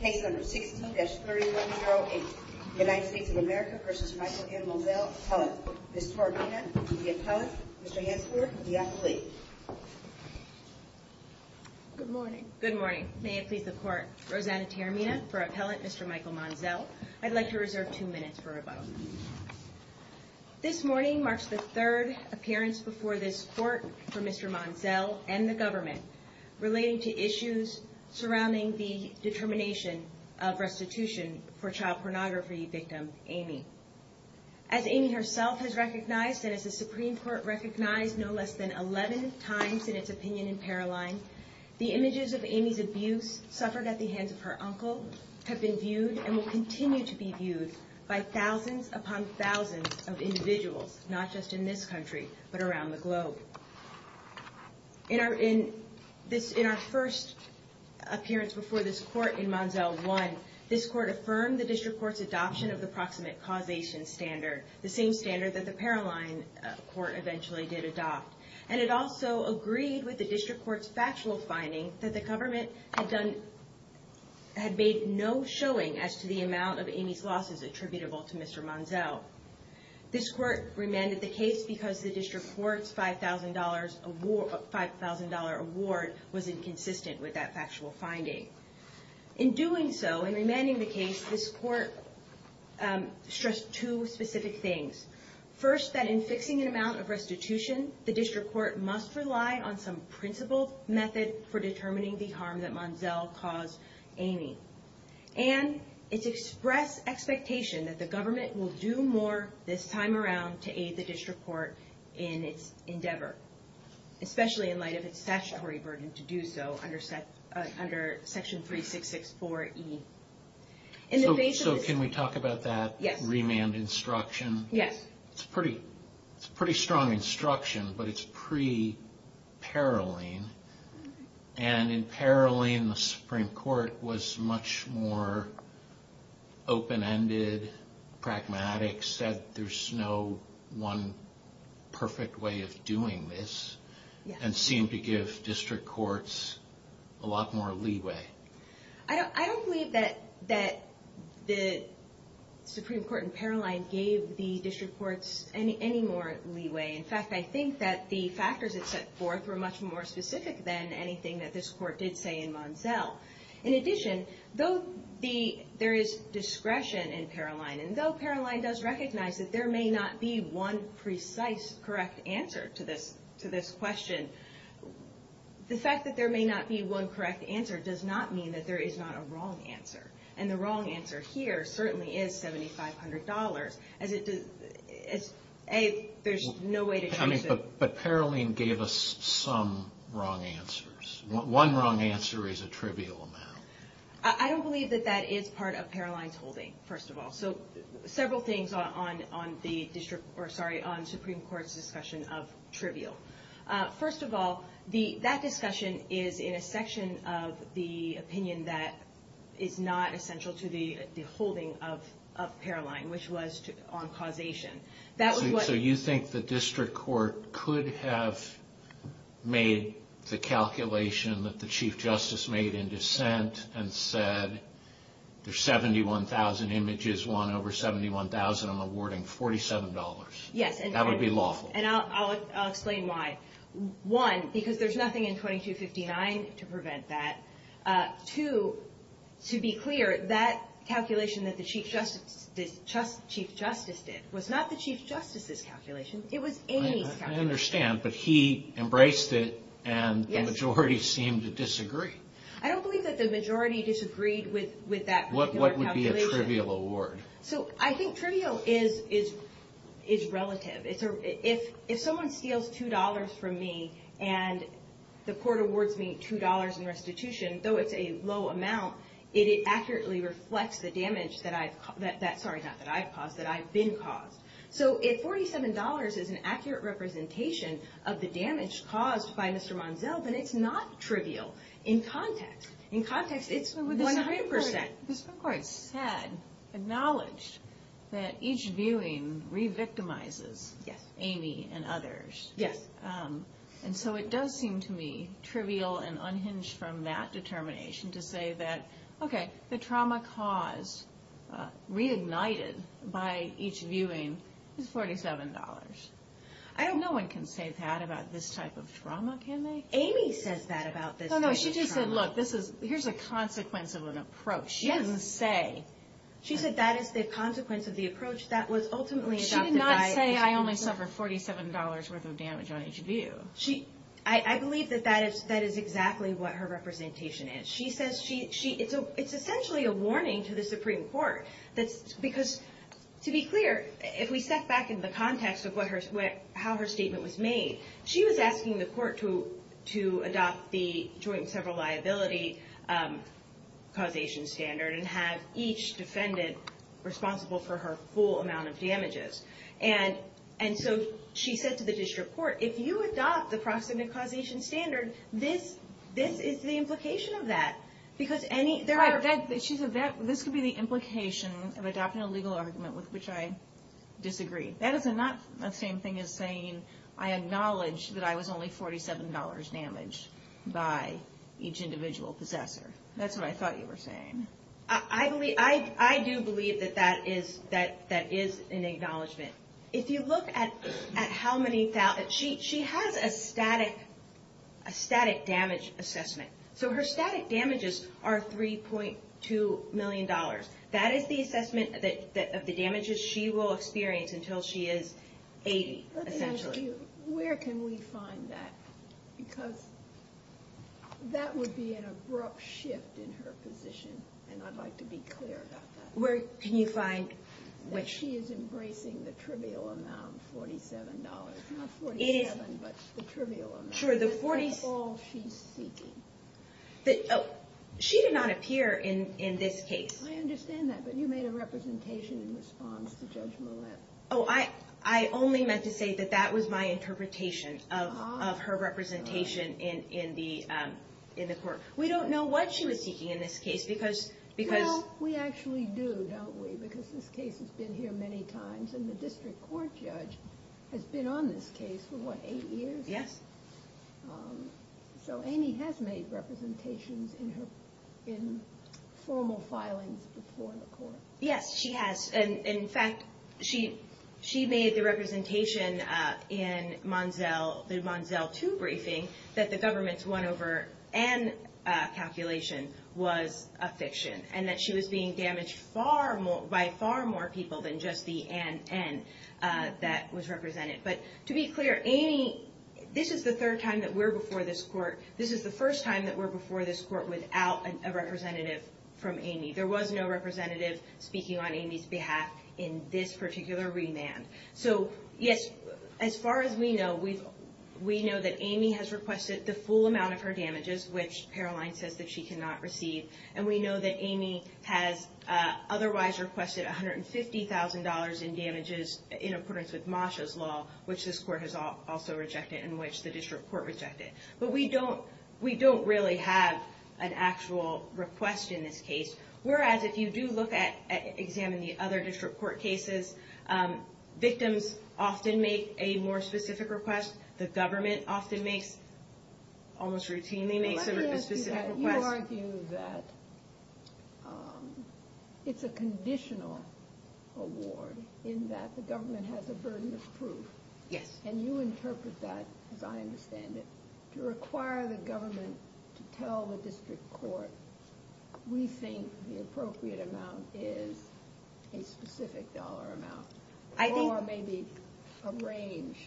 Case number 16-3108 United States of America v. Michael M. Monzel, Appellant. Ms. Tarimina, the Appellant. Mr. Hansford, the Appellee. Good morning. Good morning. May it please the Court. Rosanna Tarimina for Appellant, Mr. Michael Monzel. I'd like to reserve two minutes for rebuttal. This morning marks the third appearance before this Court for Mr. Monzel and the Government relating to issues surrounding the determination of restitution for child pornography victim Amy. As Amy herself has recognized and as the Supreme Court recognized no less than 11 times in its opinion in Paroline, the images of Amy's abuse suffered at the hands of her uncle have been viewed and will continue to be viewed by thousands upon thousands of individuals, not just in this country, but around the globe. In our first appearance before this Court in Monzel 1, this Court affirmed the District Court's adoption of the Proximate Causation Standard, the same standard that the Paroline Court eventually did adopt, and it also agreed with the District Court's factual finding that the Government had made no showing as to the amount of Amy's losses attributable to Mr. Monzel. This Court remanded the case because the District Court's $5,000 award was inconsistent with that factual finding. In doing so, in remanding the case, this Court stressed two specific things. First, that in fixing an amount of restitution, the District Court must rely on some principled method for determining the harm that Monzel caused Amy. And it expressed expectation that the Government will do more this time around to aid the District Court in its endeavor, especially in light of its statutory burden to do so under Section 3664E. So can we talk about that remand instruction? Yes. It's a pretty strong instruction, but it's pre-Paroline. And in Paroline, the Supreme Court was much more open-ended, pragmatic, said there's no one perfect way of doing this, and seemed to give District Courts a lot more leeway. I don't believe that the Supreme Court in Paroline gave the District Courts any more leeway. In fact, I think that the factors it set forth were much more specific than anything that this Court did say in Monzel. In addition, though there is discretion in Paroline, and though Paroline does recognize that there may not be one precise correct answer to this question, the fact that there may not be one correct answer does not mean that there is not a wrong answer. And the wrong answer here certainly is $7,500. But Paroline gave us some wrong answers. One wrong answer is a trivial amount. I don't believe that that is part of Paroline's holding, first of all. So several things on the Supreme Court's discussion of trivial. First of all, that discussion is in a section of the opinion that is not essential to the holding of Paroline, which was on causation. So you think the District Court could have made the calculation that the Chief Justice made in dissent and said, there's 71,000 images, one over 71,000, I'm awarding $47. That would be lawful. And I'll explain why. One, because there's nothing in 2259 to prevent that. Two, to be clear, that calculation that the Chief Justice did was not the Chief Justice's calculation. It was Amy's calculation. I understand, but he embraced it and the majority seemed to disagree. I don't believe that the majority disagreed with that particular calculation. What would be a trivial award? So I think trivial is relative. If someone steals $2 from me and the court awards me $2 in restitution, though it's a low amount, it accurately reflects the damage that I've been caused. So if $47 is an accurate representation of the damage caused by Mr. Monzel, then it's not trivial. In context, it's 100%. The District Court said, acknowledged, that each viewing re-victimizes Amy and others. Yes. And so it does seem to me trivial and unhinged from that determination to say that, okay, the trauma caused, reignited by each viewing, is $47. I don't... No one can say that about this type of trauma, can they? Amy says that about this type of trauma. No, no, she just said, look, here's a consequence of an approach. She doesn't say... She said that is the consequence of the approach that was ultimately adopted by... She did not say, I only suffered $47 worth of damage on each view. I believe that that is exactly what her representation is. It's essentially a warning to the Supreme Court. Because, to be clear, if we step back into the context of how her statement was made, she was asking the court to adopt the joint and several liability causation standard and have each defendant responsible for her full amount of damages. And so she said to the district court, if you adopt the proximate causation standard, this is the implication of that. Because any... Right, this could be the implication of adopting a legal argument with which I disagree. That is not the same thing as saying I acknowledge that I was only $47 damaged by each individual possessor. That's what I thought you were saying. I do believe that that is an acknowledgment. If you look at how many... She has a static damage assessment. So her static damages are $3.2 million. That is the assessment of the damages she will experience until she is 80, essentially. Let me ask you, where can we find that? Because that would be an abrupt shift in her position, and I'd like to be clear about that. Where can you find which... That she is embracing the trivial amount, $47. Not $47, but the trivial amount. Sure, the $47... That's all she's seeking. She did not appear in this case. I understand that, but you made a representation in response to Judge Millett. I only meant to say that that was my interpretation of her representation in the court. We don't know what she was seeking in this case because... We actually do, don't we? Because this case has been here many times, and the district court judge has been on this case for, what, eight years? Yes. So Amy has made representations in formal filings before the court. Yes, she has. And, in fact, she made the representation in the Manziel 2 briefing that the government's 1 over N calculation was a fiction and that she was being damaged by far more people than just the NN that was represented. But to be clear, Amy, this is the third time that we're before this court. This is the first time that we're before this court without a representative from Amy. There was no representative speaking on Amy's behalf in this particular remand. So, yes, as far as we know, we know that Amy has requested the full amount of her damages, which Caroline says that she cannot receive, and we know that Amy has otherwise requested $150,000 in damages in accordance with Masha's law, which this court has also rejected and which the district court rejected. But we don't really have an actual request in this case. Whereas if you do look at, examine the other district court cases, victims often make a more specific request. The government often makes, almost routinely makes a specific request. Let me ask you that. You argue that it's a conditional award in that the government has a burden of proof. Yes. And you interpret that, as I understand it, to require the government to tell the district court, we think the appropriate amount is a specific dollar amount or maybe a range.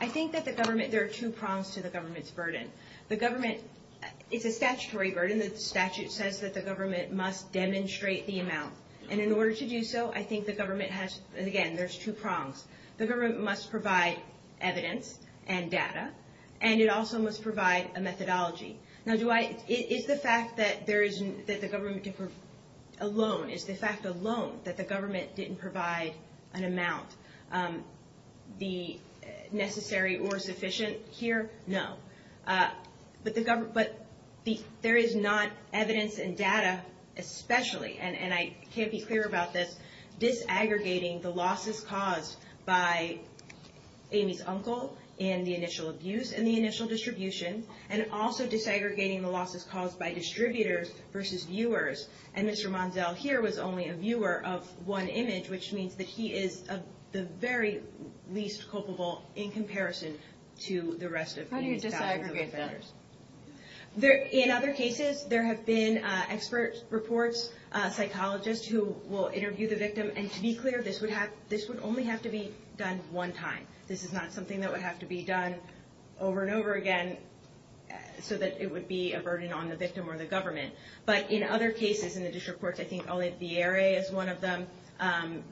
I think that the government, there are two prongs to the government's burden. The government, it's a statutory burden. The statute says that the government must demonstrate the amount. And in order to do so, I think the government has, again, there's two prongs. The government must provide evidence and data, and it also must provide a methodology. Now, do I, is the fact that there is, that the government alone, is the fact alone that the government didn't provide an amount, the necessary or sufficient here? No. But the government, but there is not evidence and data especially, and I can't be clear about this, disaggregating the losses caused by Amy's uncle and the initial abuse and the initial distribution, and also disaggregating the losses caused by distributors versus viewers. And Mr. Monzel here was only a viewer of one image, which means that he is the very least culpable in comparison to the rest of the thousands of offenders. How do you disaggregate that? In other cases, there have been expert reports, psychologists who will interview the victim, and to be clear, this would only have to be done one time. This is not something that would have to be done over and over again so that it would be a burden on the victim or the government. But in other cases, in the DISH reports, I think Oliviere is one of them,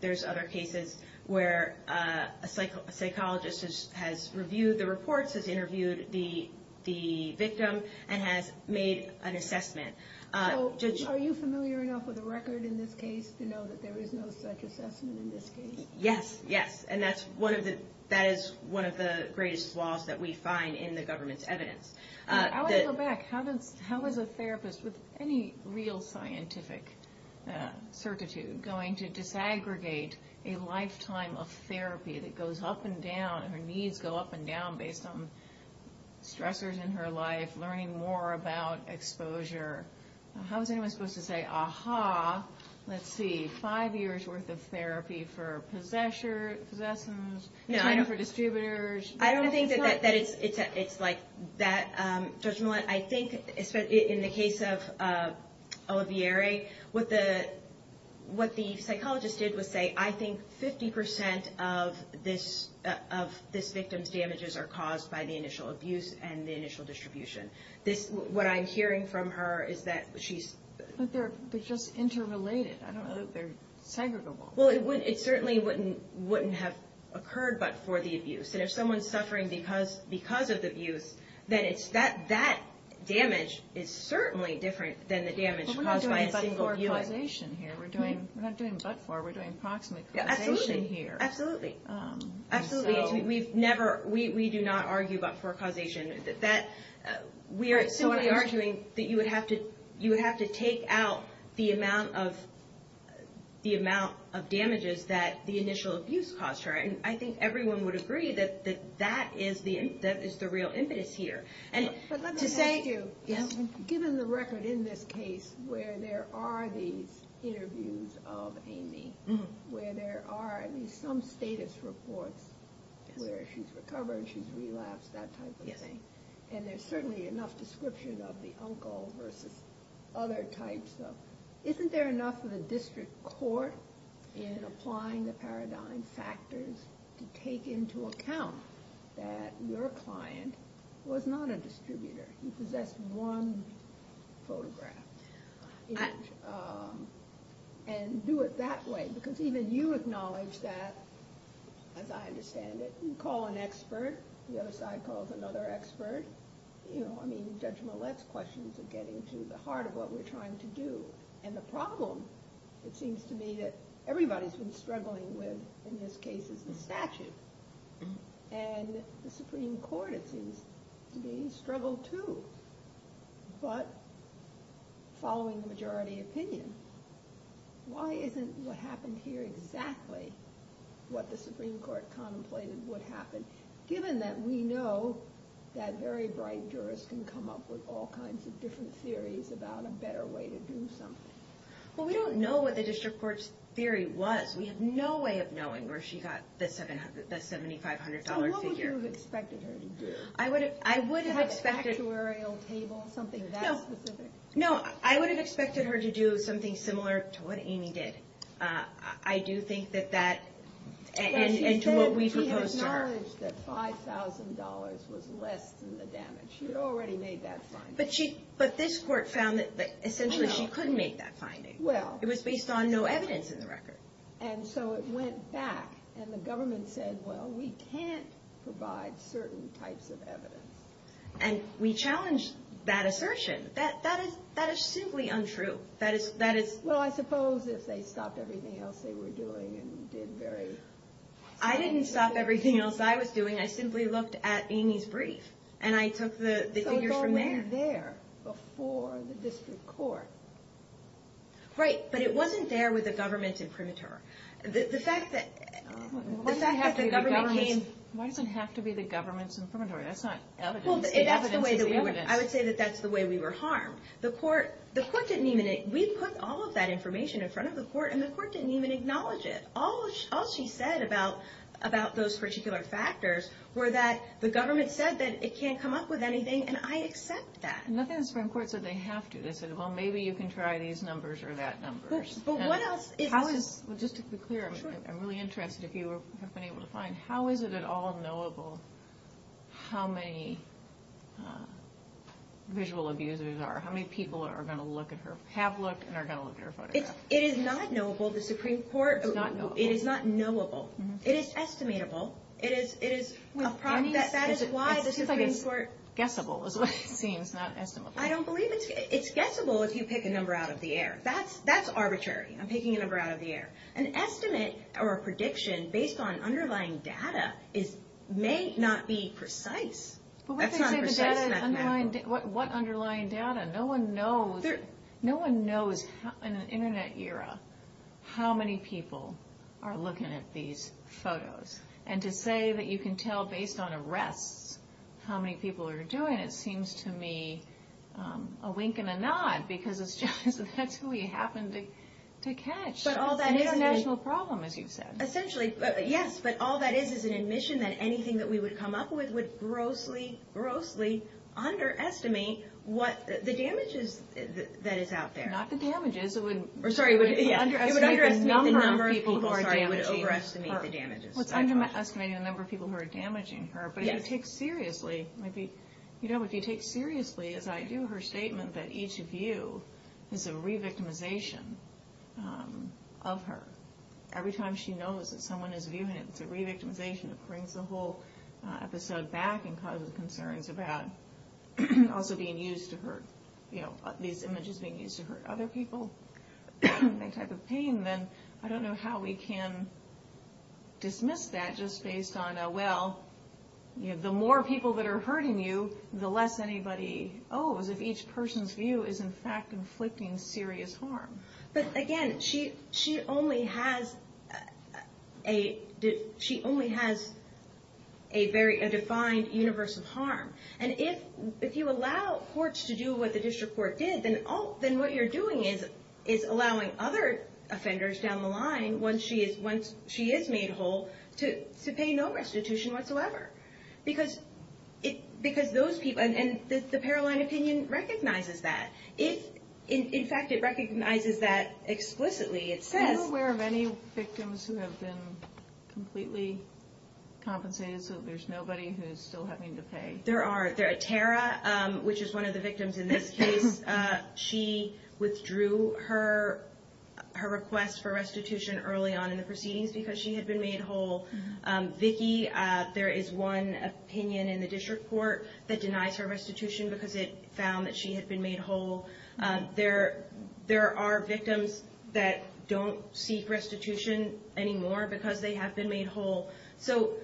there's other cases where a psychologist has reviewed the reports, has interviewed the victim, and has made an assessment. Are you familiar enough with the record in this case to know that there is no such assessment in this case? Yes, yes, and that is one of the greatest flaws that we find in the government's evidence. I want to go back. How is a therapist with any real scientific certitude going to disaggregate a lifetime of therapy that goes up and down, and her needs go up and down based on stressors in her life, learning more about exposure? How is anyone supposed to say, ah-ha, let's see, five years' worth of therapy for possessions, for distributors? I don't think that it's like that, Judge Millett. I think, in the case of Oliviere, what the psychologist did was say, I think 50% of this victim's damages are caused by the initial abuse and the initial distribution. What I'm hearing from her is that she's... But they're just interrelated. I don't know that they're segregable. Well, it certainly wouldn't have occurred but for the abuse. And if someone's suffering because of the abuse, then that damage is certainly different than the damage caused by a single abuse. But we're not doing but-for causation here. We're not doing but-for. We're doing proximate causation here. Absolutely, absolutely. We do not argue but-for causation. We are simply arguing that you would have to take out the amount of damages that the initial abuse caused her. And I think everyone would agree that that is the real impetus here. But let me ask you, given the record in this case where there are these interviews of Amy, where there are at least some status reports where she's recovered, she's relapsed, that type of thing. And there's certainly enough description of the uncle versus other types of... Isn't there enough of a district court in applying the paradigm factors to take into account that your client was not a distributor? He possessed one photograph. And do it that way because even you acknowledge that, as I understand it, you call an expert, the other side calls another expert. You know, I mean, Judge Millett's questions are getting to the heart of what we're trying to do. And the problem, it seems to me, that everybody's been struggling with in this case is the statute. And the Supreme Court, it seems to me, struggled too. But following the majority opinion, why isn't what happened here exactly what the Supreme Court contemplated would happen, given that we know that very bright jurors can come up with all kinds of different theories about a better way to do something? Well, we don't know what the district court's theory was. We have no way of knowing where she got the $7,500 figure. So what would you have expected her to do? I would have expected... Have a factuarial table, something that specific? No, I would have expected her to do something similar to what Amy did. I do think that that, and to what we proposed to her. But she said she had acknowledged that $5,000 was less than the damage. She had already made that finding. But this court found that essentially she couldn't make that finding. It was based on no evidence in the record. And so it went back, and the government said, well, we can't provide certain types of evidence. And we challenged that assertion. That is simply untrue. Well, I suppose if they stopped everything else they were doing and did very... I didn't stop everything else I was doing. I simply looked at Amy's brief, and I took the figures from there. It wasn't there before the district court. Right, but it wasn't there with the government's imprimatur. The fact that the government came... Why does it have to be the government's imprimatur? That's not evidence. I would say that that's the way we were harmed. The court didn't even... We put all of that information in front of the court, and the court didn't even acknowledge it. All she said about those particular factors were that the government said that it can't come up with anything, and I accept that. Nothing in the Supreme Court said they have to. They said, well, maybe you can try these numbers or that numbers. But what else... Just to be clear, I'm really interested if you have been able to find, how is it at all knowable how many visual abusers there are? How many people are going to have looked and are going to look at her photograph? It is not knowable. It is not knowable. It is estimatable. That is why the Supreme Court... It's guessable is what it seems, not estimable. I don't believe it's guessable if you pick a number out of the air. That's arbitrary. I'm picking a number out of the air. An estimate or a prediction based on underlying data may not be precise. That's not precise mathematical. What underlying data? No one knows in an Internet era how many people are looking at these photos. And to say that you can tell based on arrests how many people are doing it seems to me a wink and a nod because that's who we happen to catch. It's an international problem, as you've said. Essentially, yes, but all that is is an admission that anything that we would come up with would grossly, grossly underestimate the damages that is out there. Not the damages. It would underestimate the number of people who are damaging her. It would overestimate the damages. It's underestimating the number of people who are damaging her. But if you take seriously, as I do, her statement that each view is a re-victimization of her. Every time she knows that someone is viewing it, it's a re-victimization. It brings the whole episode back and causes concerns about also being used to her. These images being used to hurt other people, that type of pain, then I don't know how we can dismiss that just based on, well, the more people that are hurting you, the less anybody owes if each person's view is in fact inflicting serious harm. But again, she only has a defined universe of harm. And if you allow courts to do what the district court did, then what you're doing is allowing other offenders down the line, once she is made whole, to pay no restitution whatsoever. Because those people, and the Paroline opinion recognizes that. In fact, it recognizes that explicitly. It says... Are you aware of any victims who have been completely compensated so there's nobody who's still having to pay? There are. Tara, which is one of the victims in this case, she withdrew her request for restitution early on in the proceedings because she had been made whole. Vicki, there is one opinion in the district court that denies her restitution because it found that she had been made whole. There are victims that don't seek restitution anymore because they have been made whole. So,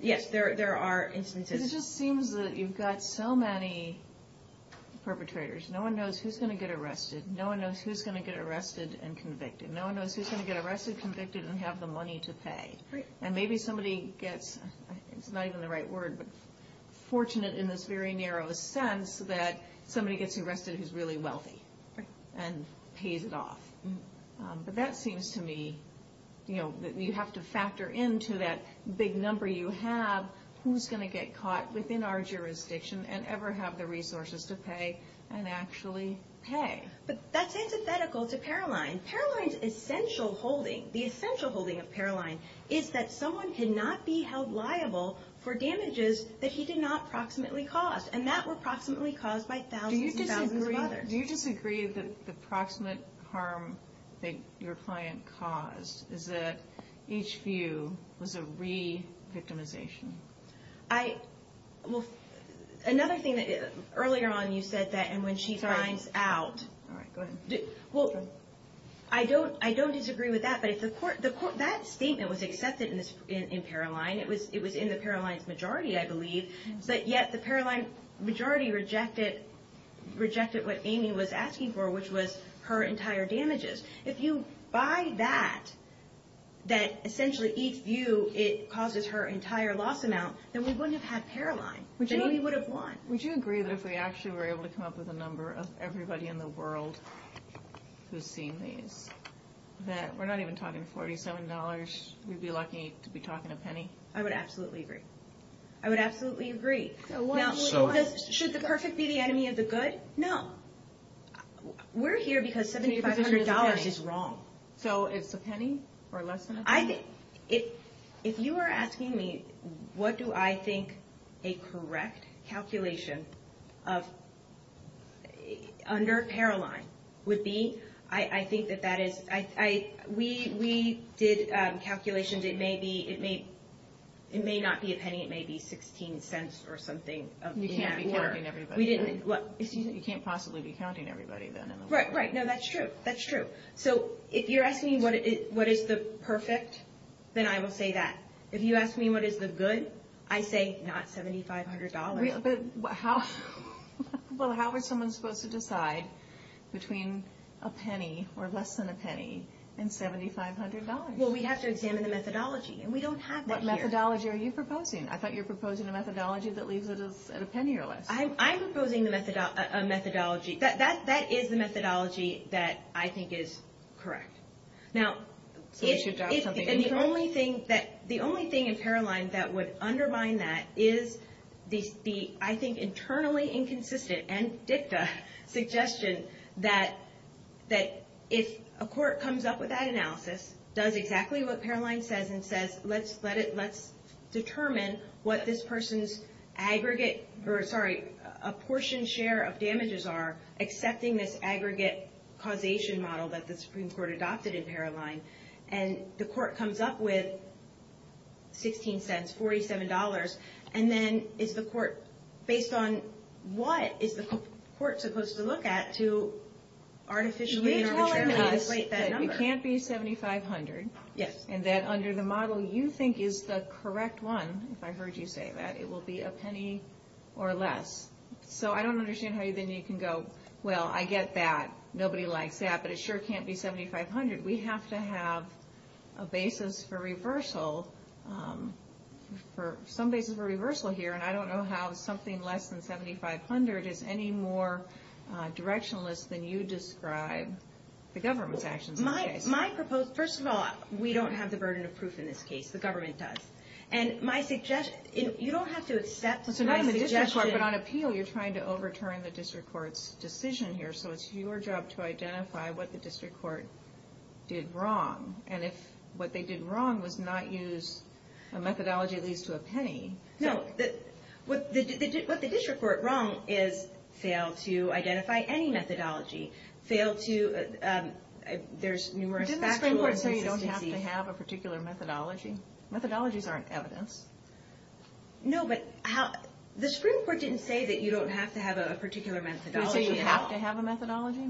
yes, there are instances. It just seems that you've got so many perpetrators. No one knows who's going to get arrested. No one knows who's going to get arrested and convicted. No one knows who's going to get arrested, convicted, and have the money to pay. And maybe somebody gets, it's not even the right word, but fortunate in this very narrow sense that somebody gets arrested who's really wealthy and pays it off. But that seems to me that you have to factor into that big number you have who's going to get caught within our jurisdiction and ever have the resources to pay and actually pay. But that's antithetical to Paroline. Paroline's essential holding, the essential holding of Paroline, is that someone cannot be held liable for damages that he did not proximately cause, and that were proximately caused by thousands and thousands of others. Do you disagree that the proximate harm that your client caused is that each view was a re-victimization? I, well, another thing that, earlier on you said that, and when she finds out. All right, go ahead. Well, I don't disagree with that, but if the court, that statement was accepted in Paroline. It was in the Paroline's majority, I believe. But yet the Paroline majority rejected what Amy was asking for, which was her entire damages. If you buy that, that essentially each view, it causes her entire loss amount, then we wouldn't have had Paroline, and Amy would have won. Would you agree that if we actually were able to come up with a number of everybody in the world who's seen these, that we're not even talking $47, we'd be lucky to be talking a penny? I would absolutely agree. I would absolutely agree. Should the perfect be the enemy of the good? No. We're here because $7,500 is wrong. So it's a penny or less than a penny? If you are asking me what do I think a correct calculation of, under Paroline would be, I think that that is, we did calculations. It may not be a penny. It may be $0.16 or something. You can't be counting everybody. You can't possibly be counting everybody then in the world. Right, right. No, that's true. That's true. So if you're asking me what is the perfect, then I will say that. If you ask me what is the good, I say not $7,500. But how are someone supposed to decide between a penny or less than a penny and $7,500? Well, we'd have to examine the methodology, and we don't have that here. What methodology are you proposing? I thought you were proposing a methodology that leaves it at a penny or less. I'm proposing a methodology. That is the methodology that I think is correct. Now, the only thing in Paroline that would undermine that is the, I think, internally inconsistent and dicta suggestion that if a court comes up with that analysis, does exactly what Paroline says, and says, let's determine what this person's aggregate or, sorry, a portion share of damages are, accepting this aggregate causation model that the Supreme Court adopted in Paroline, and the court comes up with $0.16, $47, and then is the court, based on what is the court supposed to look at to artificially in arbitrage rate that number? You're telling us that it can't be $7,500, and that under the model you think is the correct one, if I heard you say that, it will be a penny or less. So I don't understand how then you can go, well, I get that. Nobody likes that, but it sure can't be $7,500. We have to have a basis for reversal, some basis for reversal here, and I don't know how something less than $7,500 is any more directionless than you describe the government's actions in this case. My proposed, first of all, we don't have the burden of proof in this case. The government does. And my suggestion, you don't have to accept my suggestion. So not in the district court, but on appeal, you're trying to overturn the district court's decision here, so it's your job to identify what the district court did wrong, and if what they did wrong was not use a methodology at least to a penny. No, what the district court wrong is fail to identify any methodology, fail to, there's numerous factual inconsistencies. Didn't the Supreme Court say you don't have to have a particular methodology? Methodologies aren't evidence. No, but the Supreme Court didn't say that you don't have to have a particular methodology. Did it say you have to have a methodology?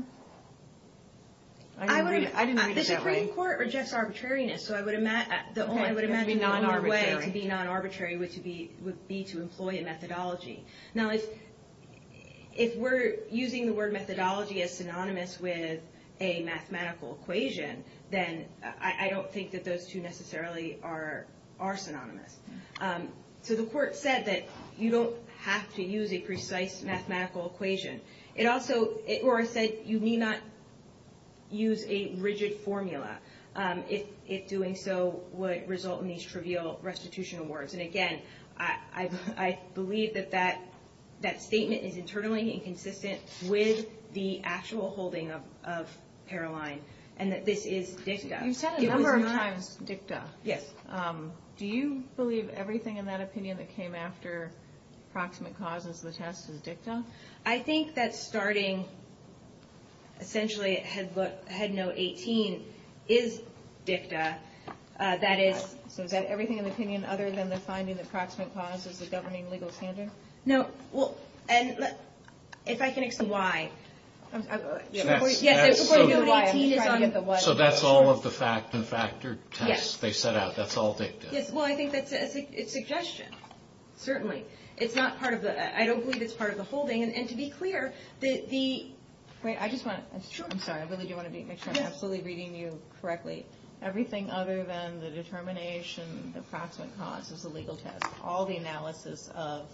I didn't read it that way. The Supreme Court rejects arbitrariness, so I would imagine the only way to be non-arbitrary would be to employ a methodology. Now, if we're using the word methodology as synonymous with a mathematical equation, then I don't think that those two necessarily are synonymous. So the court said that you don't have to use a precise mathematical equation. Or it said you need not use a rigid formula, if doing so would result in these trivial restitution awards. And, again, I believe that that statement is internally inconsistent with the actual holding of Paroline, and that this is dicta. You've said a number of times dicta. Yes. Do you believe everything in that opinion that came after proximate causes of the test is dicta? I think that starting essentially at head note 18 is dicta. That is, so is that everything in the opinion other than the finding that proximate cause is a governing legal standard? No. Well, and if I can explain why. Yes. So that's all of the fact and factor tests they set out. That's all dicta. Yes. Well, I think that's a suggestion, certainly. It's not part of the, I don't believe it's part of the holding. And to be clear, the... Wait, I just want to, I'm sorry. I really do want to make sure I'm absolutely reading you correctly. Everything other than the determination of proximate cause is a legal test. All the analysis of,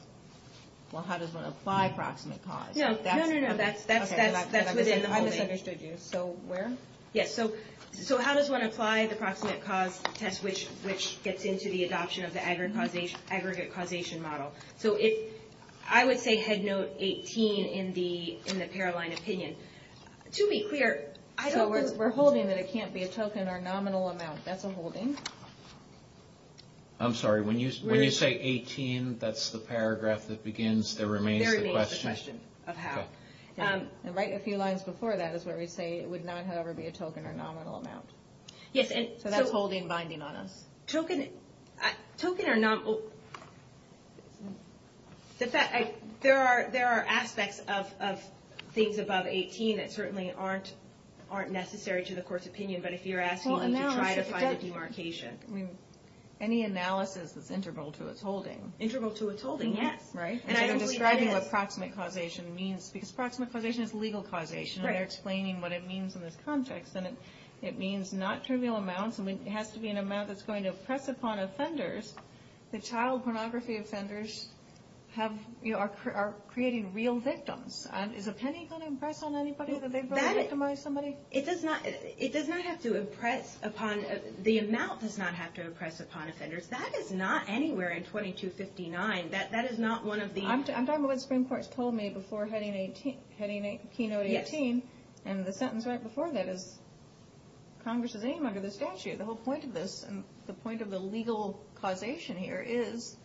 well, how does one apply proximate cause? No, no, no, no. That's within the holding. I misunderstood you. So where? Yes, so how does one apply the proximate cause test, which gets into the adoption of the aggregate causation model? So if, I would say head note 18 in the Paroline opinion. To be clear, I don't think... So we're holding that it can't be a token or nominal amount. That's a holding. I'm sorry. When you say 18, that's the paragraph that begins, there remains the question. There remains the question of how. And right a few lines before that is where we say it would not, however, be a token or nominal amount. Yes, so that's holding binding on us. Token or nominal. There are aspects of things above 18 that certainly aren't necessary to the court's opinion, but if you're asking me to try to find a demarcation. Any analysis is integral to its holding. Integral to its holding, yes. Right? And I'm describing what proximate causation means, because proximate causation is legal causation. And they're explaining what it means in this context. And it means not trivial amounts. It has to be an amount that's going to impress upon offenders. The child pornography offenders are creating real victims. Is a penny going to impress on anybody that they've victimized somebody? It does not have to impress upon... The amount does not have to impress upon offenders. That is not anywhere in 2259. That is not one of the... I'm talking about what the Supreme Court's told me before heading Keynote 18. And the sentence right before that is Congress's aim under the statute. The whole point of this and the point of the legal causation here is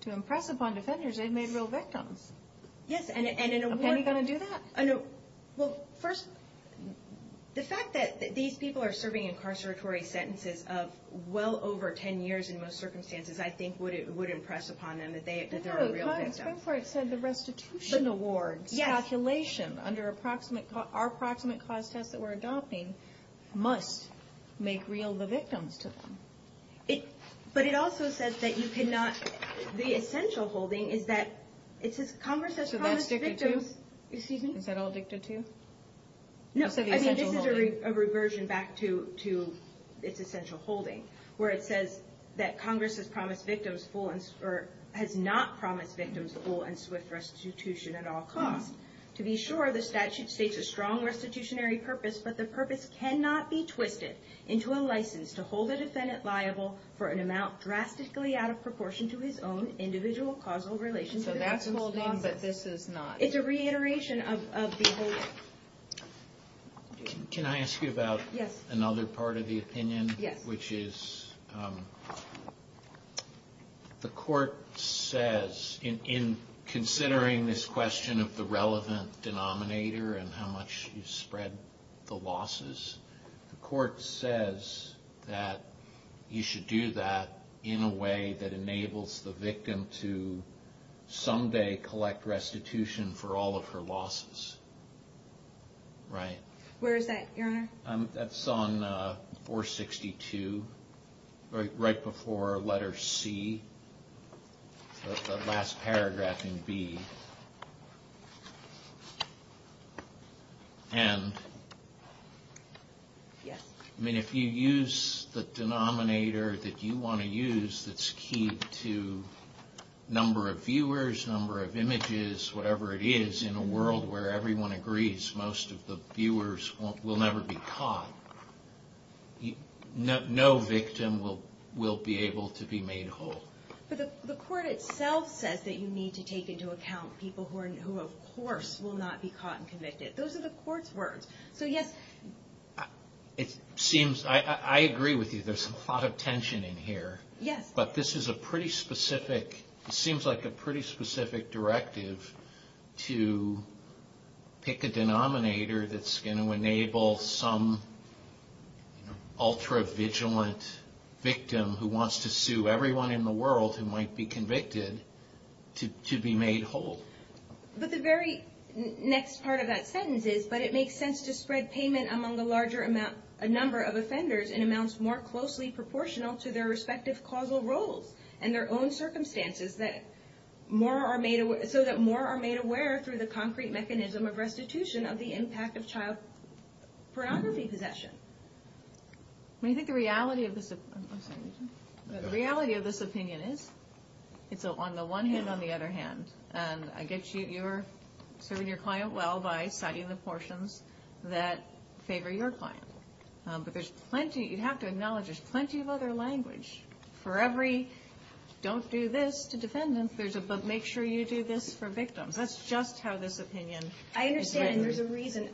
to impress upon defenders they've made real victims. Yes, and... A penny going to do that? Well, first, the fact that these people are serving incarceratory sentences of well over 10 years in most circumstances, I think would impress upon them that they're a real victim. The Supreme Court said the restitution awards calculation under our approximate cause test that we're adopting must make real the victims to them. But it also says that you cannot... The essential holding is that it says Congress has promised victims... So that's dictated to? Excuse me? Is that all dictated to? No, I mean, this is a reversion back to its essential holding where it says that Congress has not promised victims full and swift restitution at all costs. To be sure, the statute states a strong restitutionary purpose, but the purpose cannot be twisted into a license to hold a defendant liable for an amount drastically out of proportion to his own individual causal relationship... So that's holding, but this is not? It's a reiteration of the whole... Can I ask you about another part of the opinion? Yes. Which is the court says, in considering this question of the relevant denominator and how much you spread the losses, the court says that you should do that in a way that enables the victim to someday collect restitution for all of her losses. Right. Where is that, Your Honor? That's on 462, right before letter C, the last paragraph in B. And if you use the denominator that you want to use that's key to number of viewers, number of images, whatever it is, in a world where everyone agrees most of the viewers will never be caught, no victim will be able to be made whole. But the court itself says that you need to take into account people who, of course, will not be caught and convicted. Those are the court's words. I agree with you, there's a lot of tension in here. Yes. But this is a pretty specific, it seems like a pretty specific directive to pick a denominator that's going to enable some ultra-vigilant victim who wants to sue everyone in the world who might be convicted to be made whole. But the very next part of that sentence is, but it makes sense to spread payment among a larger number of offenders in amounts more closely proportional to their respective causal roles and their own circumstances so that more are made aware through the concrete mechanism of restitution of the impact of child pornography possession. Well, you think the reality of this opinion is, it's on the one hand, on the other hand, and I get you, you're serving your client well by citing the portions that favor your client. But there's plenty, you have to acknowledge there's plenty of other language for every, don't do this to defend them, but make sure you do this for victims. That's just how this opinion is written. I understand, and there's a reason.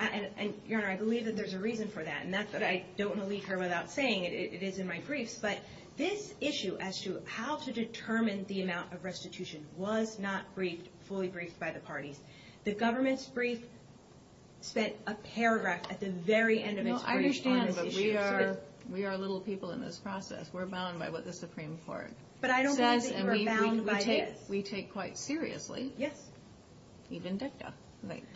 Your Honor, I believe that there's a reason for that, and that's that I don't want to leave here without saying it. It is in my briefs. But this issue as to how to determine the amount of restitution was not fully briefed by the parties. The government's brief spent a paragraph at the very end of its brief. I understand, but we are little people in this process. We're bound by what the Supreme Court says, and we take quite seriously, even DICTA.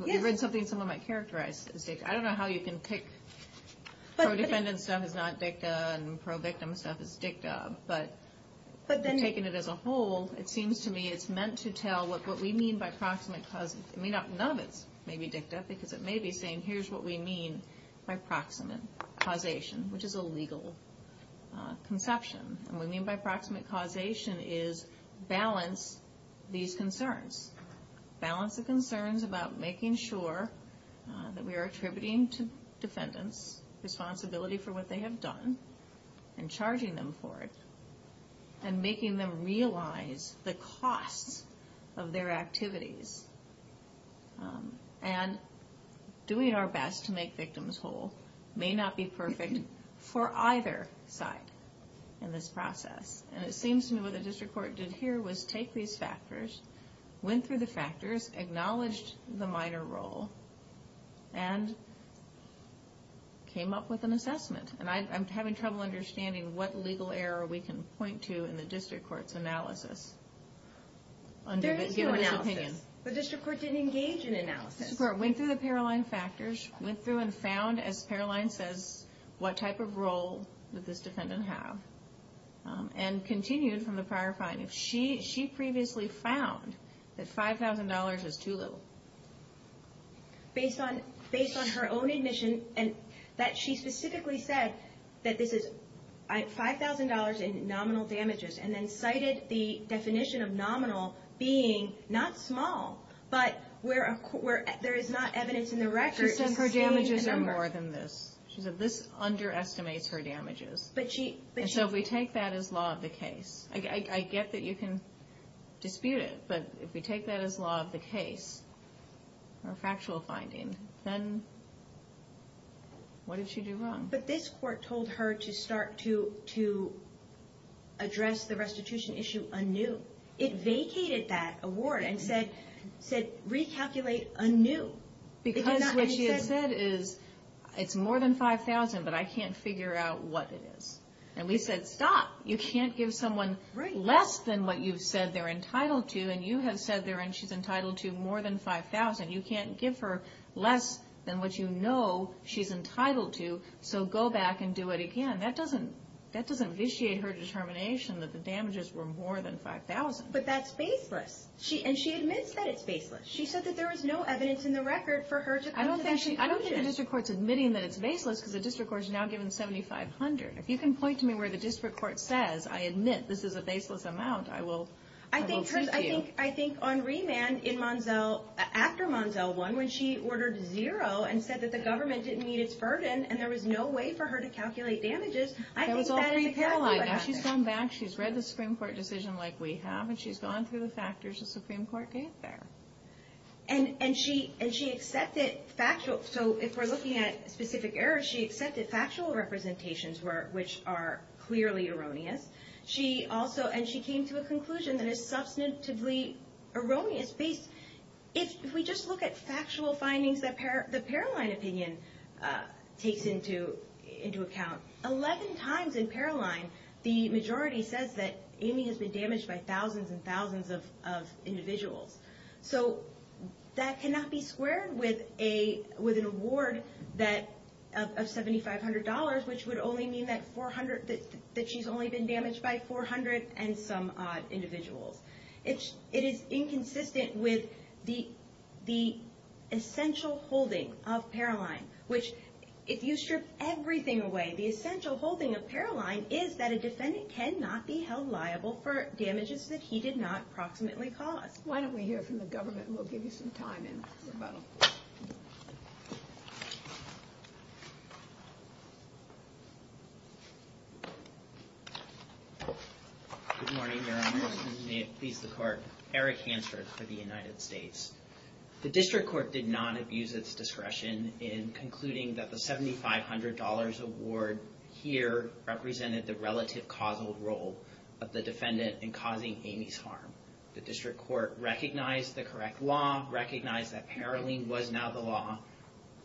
You've read something someone might characterize as DICTA. I don't know how you can pick, pro-defendant stuff is not DICTA and pro-victim stuff is DICTA, but taking it as a whole, it seems to me it's meant to tell what we mean by proximate causes. None of it's maybe DICTA, because it may be saying, here's what we mean by proximate causation, which is a legal conception. What we mean by proximate causation is balance these concerns. Balance the concerns about making sure that we are attributing to defendants responsibility for what they have done and charging them for it and making them realize the costs of their activities. And doing our best to make victims whole may not be perfect for either side in this process. And it seems to me what the district court did here was take these factors, went through the factors, acknowledged the minor role, and came up with an assessment. And I'm having trouble understanding what legal error we can point to in the district court's analysis. There is no analysis. The district court didn't engage in analysis. The district court went through the Paroline factors, went through and found, as Paroline says, what type of role did this defendant have, and continued from the prior finding. She previously found that $5,000 is too little. Based on her own admission that she specifically said that this is $5,000 in nominal damages and then cited the definition of nominal being not small, but where there is not evidence in the record. She said her damages are more than this. She said this underestimates her damages. And so if we take that as law of the case, I get that you can dispute it, but if we take that as law of the case or factual finding, then what did she do wrong? But this court told her to start to address the restitution issue anew. It vacated that award and said recalculate anew. Because what she had said is it's more than $5,000, but I can't figure out what it is. And we said stop. You can't give someone less than what you've said they're entitled to, and you have said she's entitled to more than $5,000. You can't give her less than what you know she's entitled to, so go back and do it again. That doesn't vitiate her determination that the damages were more than $5,000. But that's baseless. And she admits that it's baseless. She said that there was no evidence in the record for her to come to that conclusion. I don't think the district court's admitting that it's baseless because the district court's now given $7,500. If you can point to me where the district court says, I admit this is a baseless amount, I will speak to you. I think on remand after Monzell won when she ordered zero and said that the government didn't meet its burden and there was no way for her to calculate damages, I think that is a calculation. She's gone back. She's read the Supreme Court decision like we have, and she's gone through the factors the Supreme Court gave there. And she accepted factual. So if we're looking at specific errors, she accepted factual representations which are clearly erroneous. And she came to a conclusion that is substantively erroneous. If we just look at factual findings that the Paroline opinion takes into account, 11 times in Paroline the majority says that Amy has been damaged by thousands and thousands of individuals. So that cannot be squared with an award of $7,500, which would only mean that she's only been damaged by 400 and some odd individuals. It is inconsistent with the essential holding of Paroline, which if you strip everything away, the essential holding of Paroline is that a defendant cannot be held liable for damages that he did not proximately cause. Why don't we hear from the government and we'll give you some time in rebuttal. Good morning, Your Honor. May it please the Court. Eric Hansford for the United States. The District Court did not abuse its discretion in concluding that the $7,500 award here represented the relative causal role of the defendant in causing Amy's harm. The District Court recognized the correct law, recognized that Paroline was now the law,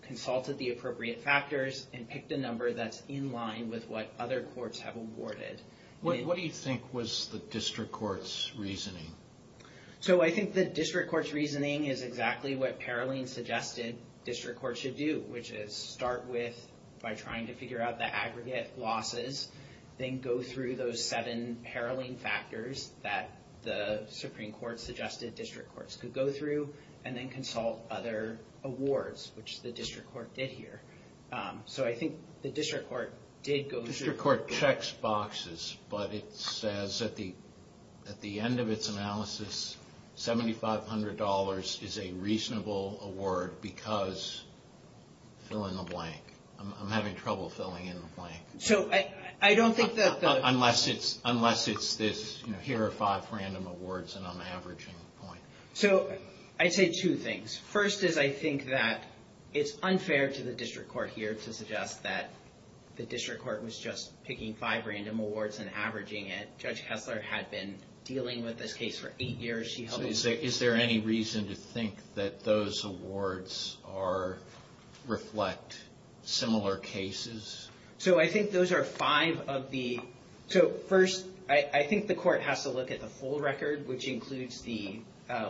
consulted the appropriate factors, and picked a number that's in line with what other courts have awarded. What do you think was the District Court's reasoning? So I think the District Court's reasoning is exactly what Paroline suggested District Court should do, which is start with, by trying to figure out the aggregate losses, then go through those seven Paroline factors that the Supreme Court suggested District Courts could go through, and then consult other awards, which the District Court did here. So I think the District Court did go through. The District Court checks boxes, but it says at the end of its analysis, $7,500 is a reasonable award because fill in the blank. I'm having trouble filling in the blank. So I don't think that the Unless it's this, here are five random awards, and I'm averaging the point. So I'd say two things. First is I think that it's unfair to the District Court here to suggest that the District Court was just picking five random awards and averaging it. Judge Kessler had been dealing with this case for eight years. Is there any reason to think that those awards reflect similar cases? So I think those are five of the So first, I think the court has to look at the full record, which includes the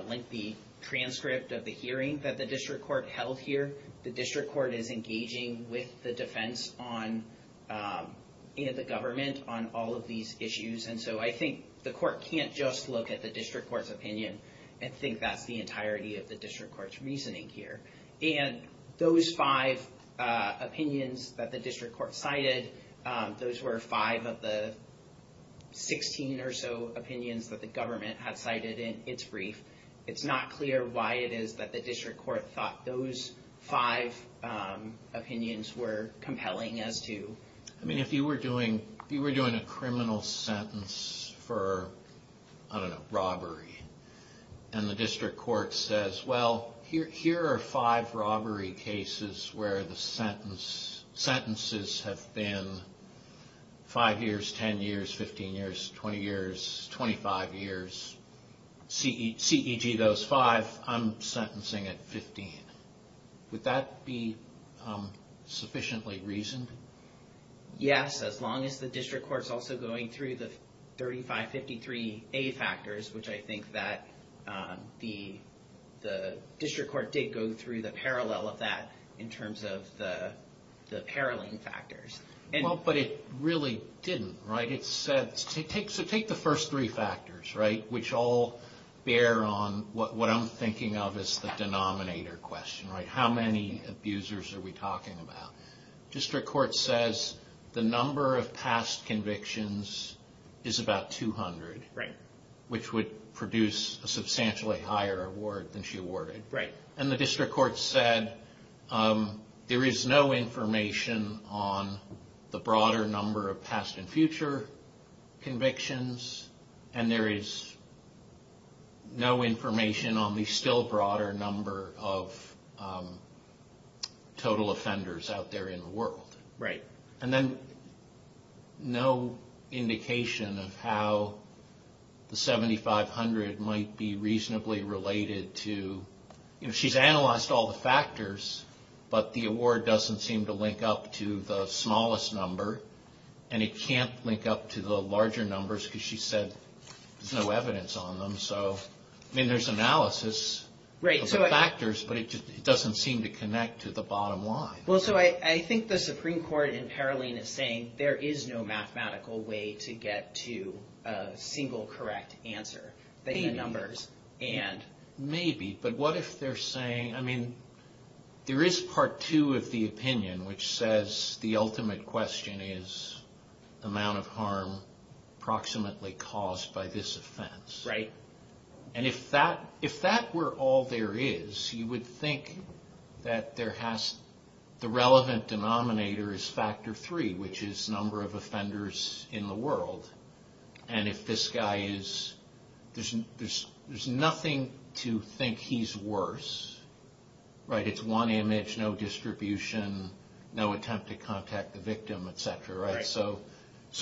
lengthy transcript of the hearing that the District Court held here. The District Court is engaging with the defense on the government on all of these issues. And so I think the court can't just look at the District Court's opinion and think that's the entirety of the District Court's reasoning here. And those five opinions that the District Court cited, those were five of the 16 or so opinions that the government had cited in its brief. It's not clear why it is that the District Court thought those five opinions were compelling as to I mean, if you were doing a criminal sentence for, I don't know, robbery, and the District Court says, well, here are five robbery cases where the sentences have been five years, 10 years, 15 years, 20 years, 25 years. C.E.G. those five, I'm sentencing at 15. Would that be sufficiently reasoned? Yes, as long as the District Court is also going through the 3553A factors, which I think that the District Court did go through the parallel of that in terms of the paralleling factors. But it really didn't, right? It said, take the first three factors, right? Which all bear on what I'm thinking of as the denominator question, right? How many abusers are we talking about? District Court says the number of past convictions is about 200. Right. Which would produce a substantially higher award than she awarded. Right. And the District Court said there is no information on the broader number of past and future convictions. And there is no information on the still broader number of total offenders out there in the world. Right. And then no indication of how the 7500 might be reasonably related to, you know, she's analyzed all the factors, but the award doesn't seem to link up to the smallest number. And it can't link up to the larger numbers, because she said there's no evidence on them. So, I mean, there's analysis of the factors, but it doesn't seem to connect to the bottom line. Well, so I think the Supreme Court in paralleling is saying there is no mathematical way to get to a single correct answer. Maybe. Maybe. But what if they're saying, I mean, there is part two of the opinion, which says the ultimate question is the amount of harm approximately caused by this offense. Right. And if that were all there is, you would think that the relevant denominator is factor three, which is number of offenders in the world. And if this guy is, there's nothing to think he's worse. Right. It's one image, no distribution, no attempt to contact the victim, etc. Right. So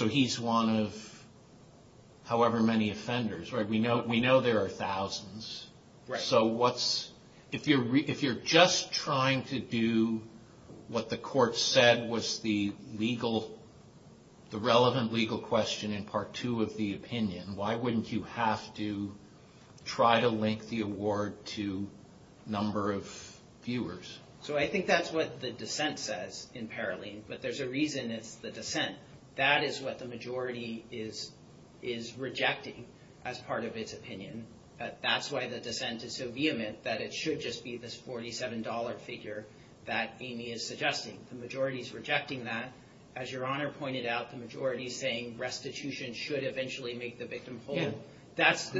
he's one of however many offenders. We know there are thousands. Right. So what's, if you're just trying to do what the court said was the legal, the relevant legal question in part two of the opinion, why wouldn't you have to try to link the award to number of viewers? So I think that's what the dissent says in parallel. But there's a reason it's the dissent. That is what the majority is rejecting as part of its opinion. That's why the dissent is so vehement, that it should just be this $47 figure that Amy is suggesting. The majority is rejecting that. As Your Honor pointed out, the majority is saying restitution should eventually make the victim whole. Yeah.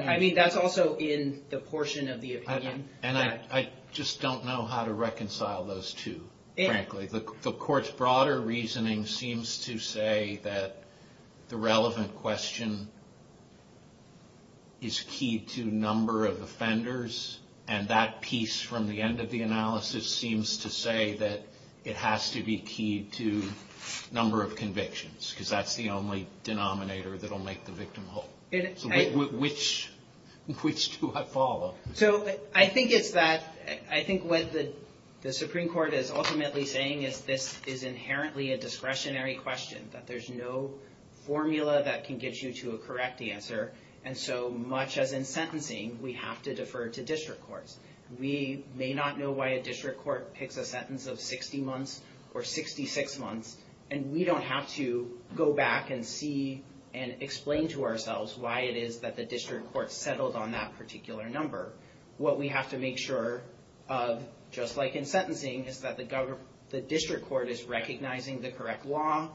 I mean, that's also in the portion of the opinion. And I just don't know how to reconcile those two, frankly. The court's broader reasoning seems to say that the relevant question is key to number of offenders, and that piece from the end of the analysis seems to say that it has to be key to number of convictions. Because that's the only denominator that will make the victim whole. So which do I follow? So I think it's that. I think what the Supreme Court is ultimately saying is this is inherently a discretionary question, that there's no formula that can get you to a correct answer. And so much as in sentencing, we have to defer to district courts. We may not know why a district court picks a sentence of 60 months or 66 months, and we don't have to go back and see and explain to ourselves why it is that the district court settled on that particular number. What we have to make sure of, just like in sentencing, is that the district court is recognizing the correct law,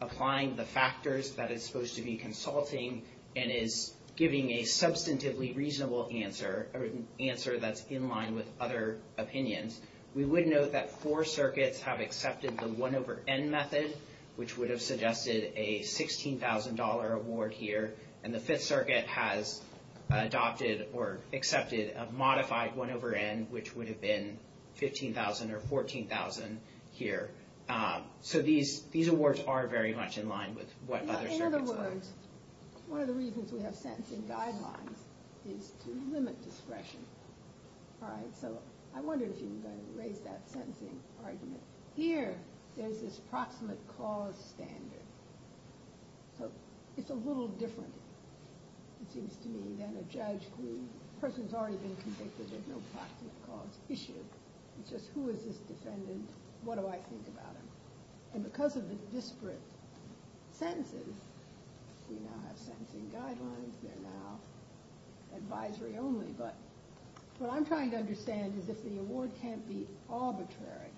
applying the factors that it's supposed to be consulting, and is giving a substantively reasonable answer, an answer that's in line with other opinions. We would note that four circuits have accepted the 1 over N method, which would have suggested a $16,000 award here. And the Fifth Circuit has adopted or accepted a modified 1 over N, which would have been $15,000 or $14,000 here. So these awards are very much in line with what other circuits are. In other words, one of the reasons we have sentencing guidelines is to limit discretion. All right, so I wondered if you were going to raise that sentencing argument. Here, there's this proximate cause standard. So it's a little different, it seems to me, than a judge who the person's already been convicted, there's no proximate cause issue. It's just who is this defendant, what do I think about him? And because of the disparate sentences, we now have sentencing guidelines, advisory only, but what I'm trying to understand is if the award can't be arbitrary,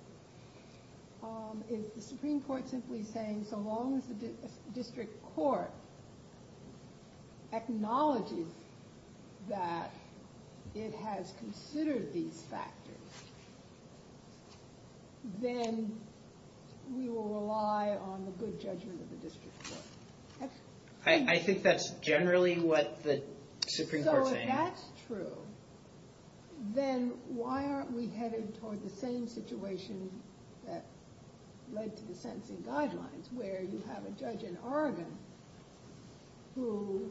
is the Supreme Court simply saying, so long as the district court acknowledges that it has considered these factors, then we will rely on the good judgment of the district court. I think that's generally what the Supreme Court's saying. So if that's true, then why aren't we headed toward the same situation that led to the sentencing guidelines, where you have a judge in Oregon who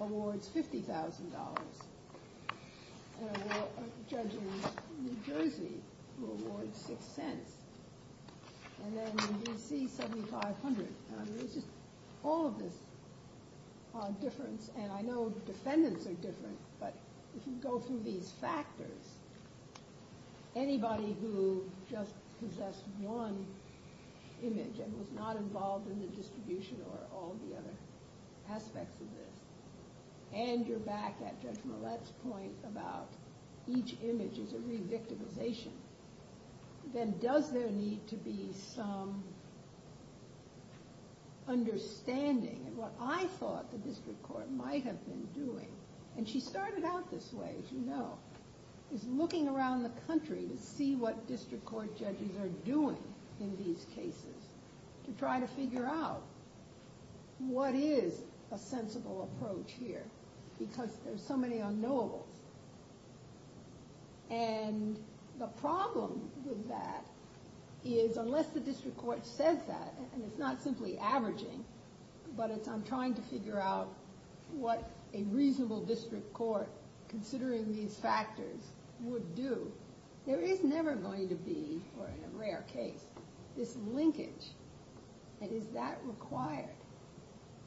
awards $50,000, and a judge in New Jersey who awards $0.06, and then when you see $7,500, it's just all of this difference, and I know defendants are different, but if you go through these factors, anybody who just possessed one image and was not involved in the distribution or all the other aspects of this, and you're back at Judge Millett's point about each image is a re-victimization, then does there need to be some understanding in what I thought the district court might have been doing, and she started out this way, as you know, is looking around the country to see what district court judges are doing in these cases to try to figure out what is a sensible approach here, because there's so many unknowables, and the problem with that is unless the district court says that, and it's not simply averaging, but it's I'm trying to figure out what a reasonable district court considering these factors would do, there is never going to be, or in a rare case, this linkage, and is that required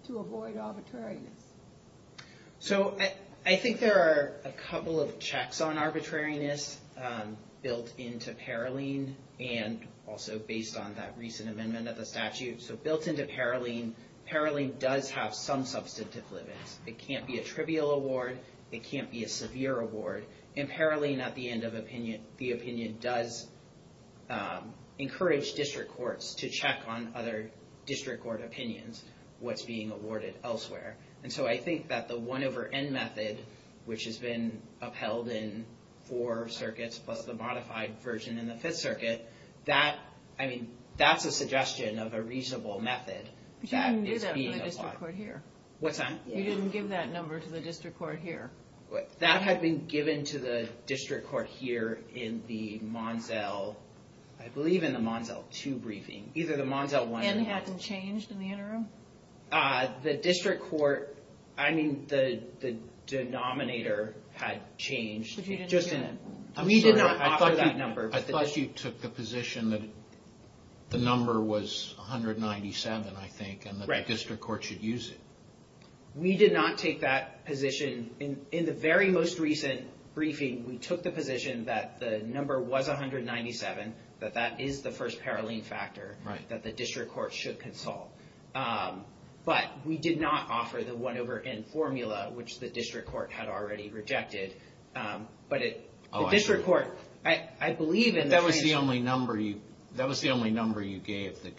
to avoid arbitrariness? So I think there are a couple of checks on arbitrariness built into Paroline, and also based on that recent amendment of the statute, so built into Paroline, Paroline does have some substantive limits. It can't be a trivial award. It can't be a severe award, and Paroline, at the end of the opinion, does encourage district courts to check on other district court opinions, what's being awarded elsewhere, and so I think that the 1 over N method, which has been upheld in four circuits, plus the modified version in the fifth circuit, that's a suggestion of a reasonable method that is being applied. What's that? You didn't give that number to the district court here. That had been given to the district court here in the Monzell, I believe in the Monzell 2 briefing. Either the Monzell 1 or the Monzell 2. Has that been changed in the interim? The district court, I mean, the denominator had changed. We did not offer that number. I thought you took the position that the number was 197, I think, and that the district court should use it. We did not take that position. In the very most recent briefing, we took the position that the number was 197, that that is the first Paroline factor that the district court should consult. But we did not offer the 1 over N formula, which the district court had already rejected. But the district court, I believe in the transition... That was the only number you gave that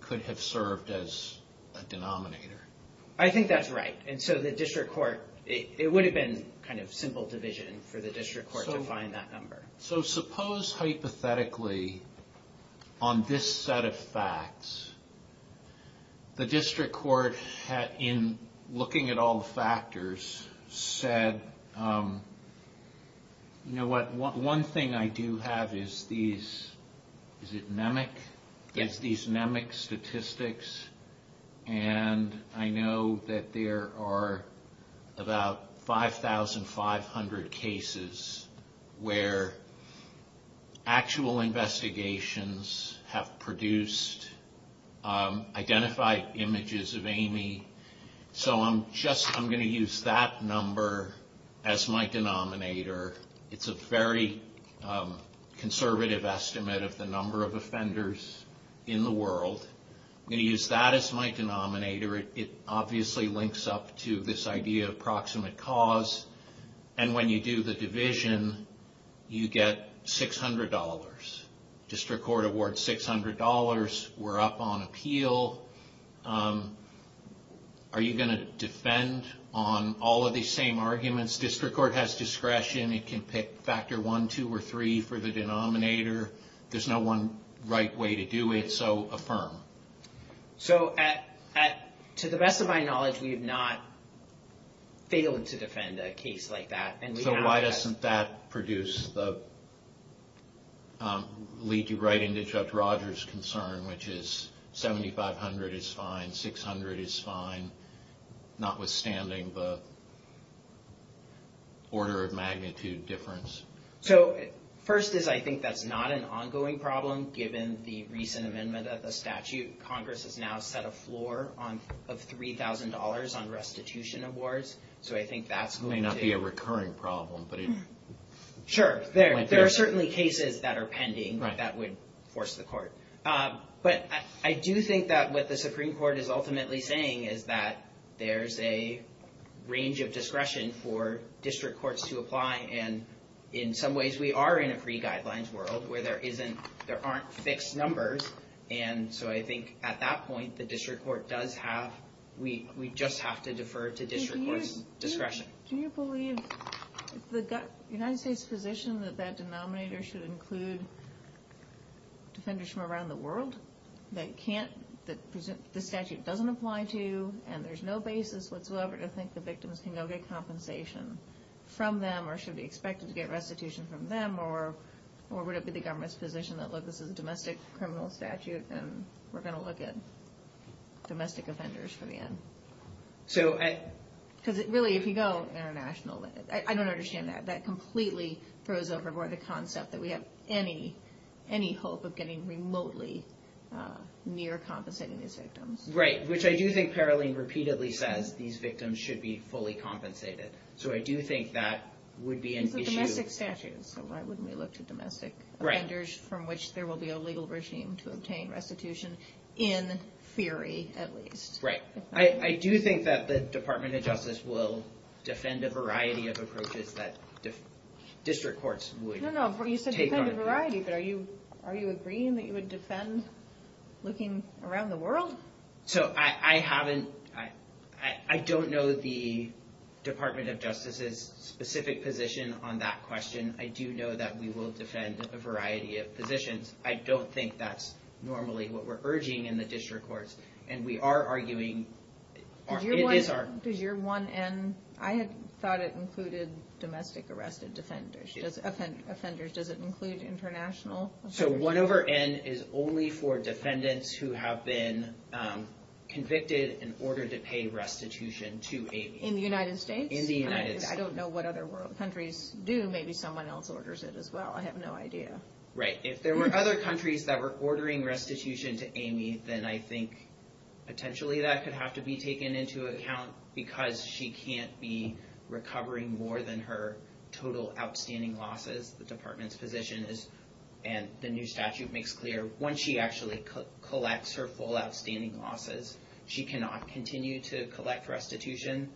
could have served as a denominator. I think that's right. And so the district court, it would have been kind of simple division for the district court to find that number. So suppose, hypothetically, on this set of facts, the district court, in looking at all the factors, said, you know what? One thing I do have is these... Is it NEMIC? Is these NEMIC statistics? And I know that there are about 5,500 cases where actual investigations have produced identified images of Amy. So I'm going to use that number as my denominator. It's a very conservative estimate of the number of offenders in the world. I'm going to use that as my denominator. It obviously links up to this idea of proximate cause. And when you do the division, you get $600. District court awards $600. We're up on appeal. Are you going to defend on all of these same arguments? District court has discretion. It can pick factor one, two, or three for the denominator. There's no one right way to do it, so affirm. So to the best of my knowledge, we have not failed to defend a case like that. So why doesn't that produce the... lead you right into Judge Rogers' concern, which is 7,500 is fine, 600 is fine, notwithstanding the order of magnitude difference? So first is I think that's not an ongoing problem, given the recent amendment of the statute. Congress has now set a floor of $3,000 on restitution awards. So I think that's going to... It may not be a recurring problem, but... Sure, there are certainly cases that are pending that would force the court. But I do think that what the Supreme Court is ultimately saying is that there's a range of discretion for district courts to apply. And in some ways, we are in a free guidelines world where there aren't fixed numbers. And so I think at that point, the district court does have... We just have to defer to district court's discretion. Do you believe the United States' position that that denominator should include defenders from around the world that the statute doesn't apply to, and there's no basis whatsoever to think the victims can go get compensation from them, or should be expected to get restitution from them, or would it be the government's position that this is a domestic criminal statute and we're going to look at domestic offenders for the end? Because really, if you go internationally... I don't understand that. That completely throws overboard the concept that we have any hope of getting remotely near compensating these victims. Right, which I do think Paroline repeatedly says these victims should be fully compensated. So I do think that would be an issue. These are domestic statutes, so why wouldn't we look to domestic offenders from which there will be a legal regime to obtain restitution, in theory at least. Right. I do think that the Department of Justice will defend a variety of approaches that district courts would take on. No, no, you said defend a variety, but are you agreeing that you would defend looking around the world? So I haven't... I don't know the Department of Justice's specific position on that question. I do know that we will defend a variety of positions. I don't think that's normally what we're urging in the district courts. And we are arguing... Does your 1N... I had thought it included domestic arrested offenders. Does it include international offenders? So 1 over N is only for defendants who have been convicted in order to pay restitution to a... In the United States? In the United States. I don't know what other countries do. Maybe someone else orders it as well. I have no idea. Right. If there were other countries that were ordering restitution to Amy, then I think potentially that could have to be taken into account because she can't be recovering more than her total outstanding losses. The Department's position is, and the new statute makes clear, once she actually collects her full outstanding losses, she cannot continue to collect restitution.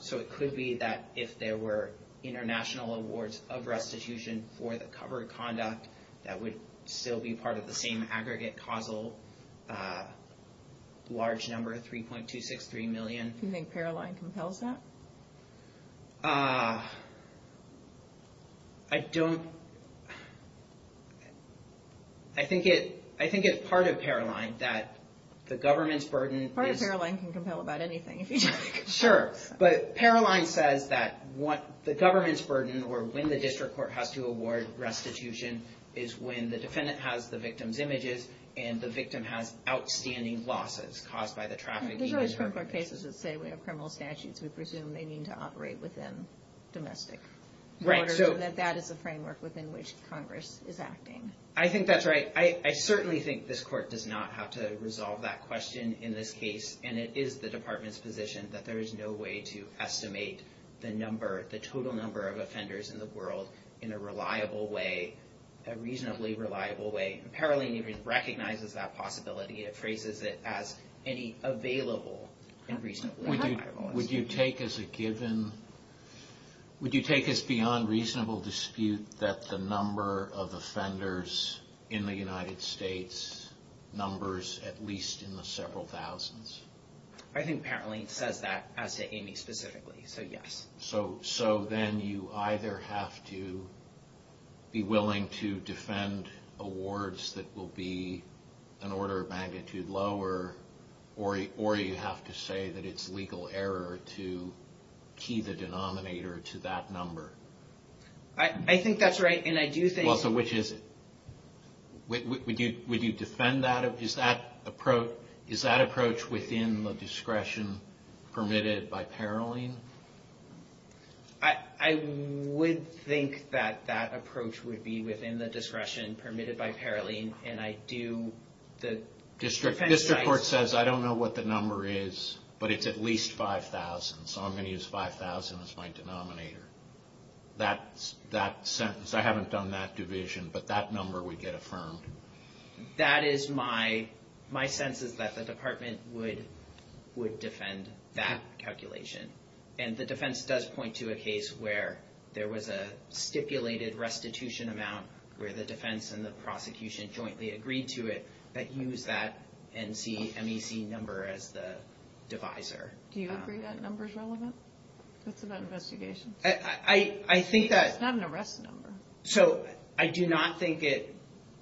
So it could be that if there were international awards of restitution for the covered conduct, that would still be part of the same aggregate causal large number, 3.263 million. Do you think Paroline compels that? I think it's part of Paroline that the government's burden... Part of Paroline can compel about anything Sure. But Paroline says that the government's burden or when the district court has to award restitution is when the defendant has the victim's images and the victim has outstanding losses caused by the traffic... There's always criminal cases that say we have criminal statutes we presume they need to operate within domestic orders and that that is the framework within which Congress is acting. I think that's right. I certainly think this court does not have to resolve that question in this case and it is the department's position that there is no way to estimate the number, the total number of offenders in the world in a reliable way, a reasonably reliable way. Paroline recognizes that possibility and it phrases it as any available and reasonably reliable... Would you take as a given... Would you take as beyond reasonable dispute that the number of offenders in the United States numbers at least in the several thousands? I think Paroline says that as to Amy specifically, so yes. So then you either have to be willing to defend awards that will be an order of magnitude lower or you have to say that it's legal error to key the denominator to that number. I think that's right and I do think... Well, so which is it? Would you defend that? Is that approach within the discretion permitted by Paroline? I would think that that approach would be within the discretion permitted by Paroline and I do... District Court says I don't know what the number is but it's at least 5,000 so I'm going to use 5,000 as my denominator. That sentence, I haven't done that division but that number would get affirmed. That is my... My sense is that the department would defend that calculation and the defense does point to a case where there was a stipulated restitution amount where the defense and the prosecution jointly agreed to it but use that NCMEC number as the divisor. Do you agree that number's relevant? That's about investigation. I think that... It's not an arrest number. So I do not think it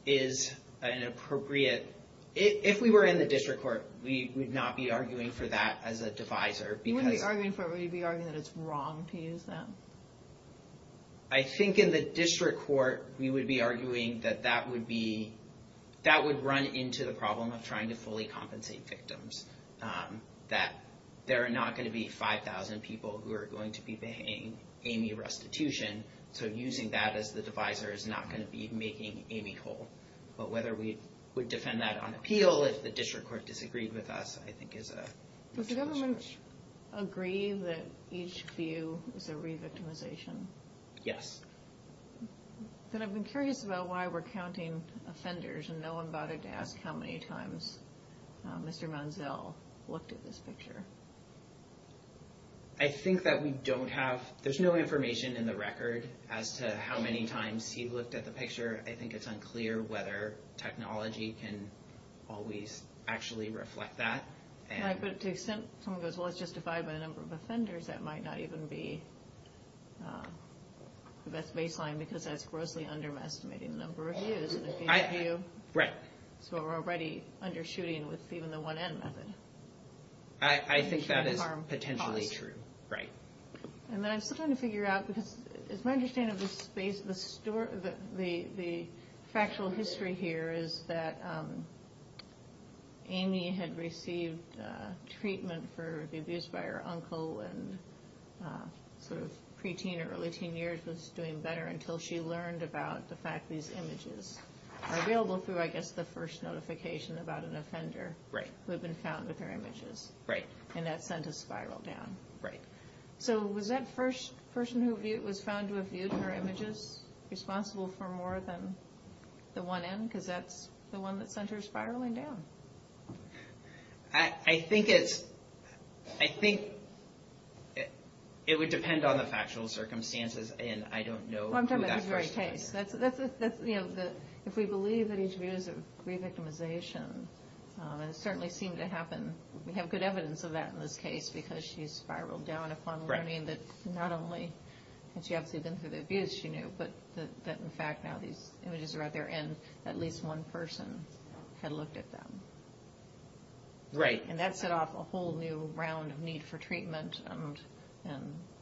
is an appropriate... If we were in the District Court, we would not be arguing for that as a divisor because... What would you be arguing for? Would you be arguing that it's wrong to use that? I think in the District Court, we would be arguing that that would be... That would run into the problem of trying to fully compensate victims. That there are not going to be 5,000 people who are going to be paying any restitution so using that as the divisor is not going to be making any hole. But whether we would defend that on appeal if the District Court disagreed with us, I think is a... Does the government agree that each view is a re-victimization? Yes. Then I've been curious about why we're counting offenders and no one bothered to ask how many times Mr. Manziel looked at this picture. I think that we don't have... A record as to how many times he looked at the picture. I think it's unclear whether technology can always actually reflect that. Right, but to the extent someone goes, well, it's justified by the number of offenders, that might not even be the best baseline because that's grossly underestimating the number of views. Right. So we're already undershooting with even the 1N method. I think that is potentially true. Right. Then I'm still trying to figure out, because it's my understanding of the factual history here, is that Amy had received treatment for the abuse by her uncle and sort of pre-teen or early teen years was doing better until she learned about the fact these images are available through, I guess, the first notification about an offender who had been found with her images. Right. And that sent a spiral down. Right. So was that person who was found to have viewed her images responsible for more than the 1N? Because that's the one that sent her spiraling down. I think it's... I think it would depend on the factual circumstances and I don't know who that person was. Well, I'm talking about the very case. That's, you know, if we believe that each of these are pre-victimization, and it certainly seemed to happen, and we have good evidence of that in this case because she spiraled down upon learning that not only had she obviously been through the abuse, she knew, but that in fact now these images are out there and at least one person had looked at them. Right. And that set off a whole new round of need for treatment and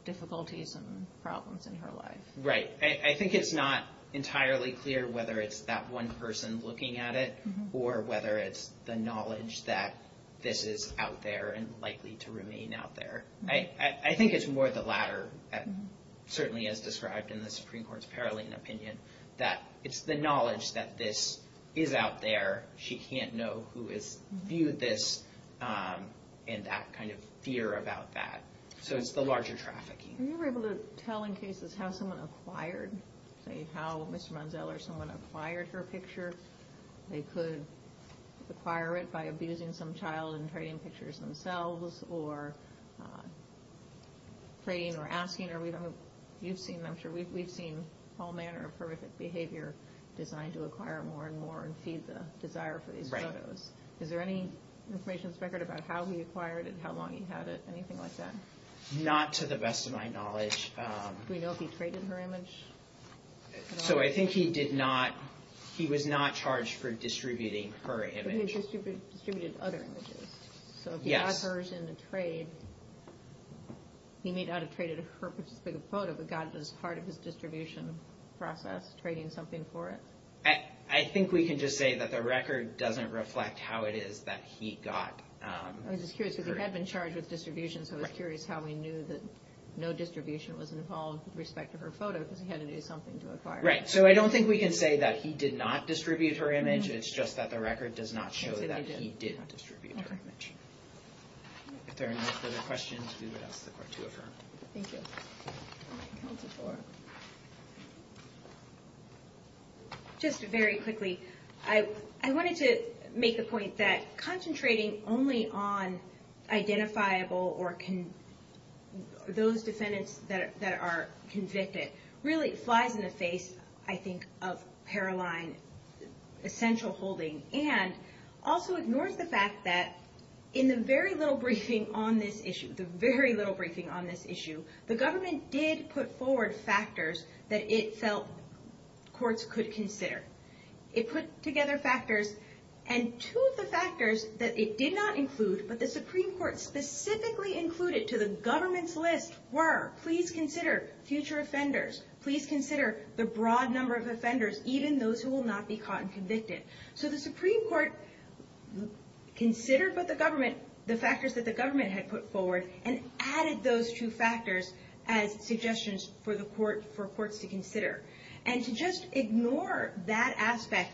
difficulties and problems in her life. Right. I think it's not entirely clear whether it's that one person looking at it or whether it's the knowledge that this is out there and likely to remain out there. I think it's more the latter, certainly as described in the Supreme Court's Paroline opinion, that it's the knowledge that this is out there, she can't know who has viewed this, and that kind of fear about that. So it's the larger trafficking. Were you able to tell in cases how someone acquired, say how Mr. Monzel or someone acquired her picture, they could acquire it by abusing some child and trading pictures themselves or trading or asking? I'm sure we've seen all manner of horrific behavior designed to acquire more and more and feed the desire for these photos. Right. Is there any information, Inspector, about how he acquired it, how long he had it, anything like that? Not to the best of my knowledge. Do we know if he traded her image? So I think he was not charged for distributing her image. But he distributed other images. Yes. So if he got hers in a trade, he may not have traded her particular photo, but got it as part of his distribution process, trading something for it? I think we can just say that the record doesn't reflect how it is that he got her. I was just curious because he had been charged with distribution, so I was curious how he knew that no distribution was involved with respect to her photo because he had to do something to acquire it. Right. So I don't think we can say that he did not distribute her image. It's just that the record does not show that he did distribute her image. Okay. If there are no further questions, we would ask the Court to affirm. Thank you. Just very quickly, I wanted to make the point that concentrating only on identifiable or those defendants that are convicted really flies in the face, I think, of Paroline essential holding and also ignores the fact that in the very little briefing on this issue, the very little briefing on this issue, the government did put forward factors that it felt courts could consider. It put together factors, and two of the factors that it did not include but the Supreme Court specifically included to the government's list were please consider future offenders, please consider the broad number of offenders, even those who will not be caught and convicted. So the Supreme Court considered what the government, the factors that the government had put forward and added those two factors as suggestions for courts to consider. And to just ignore that aspect,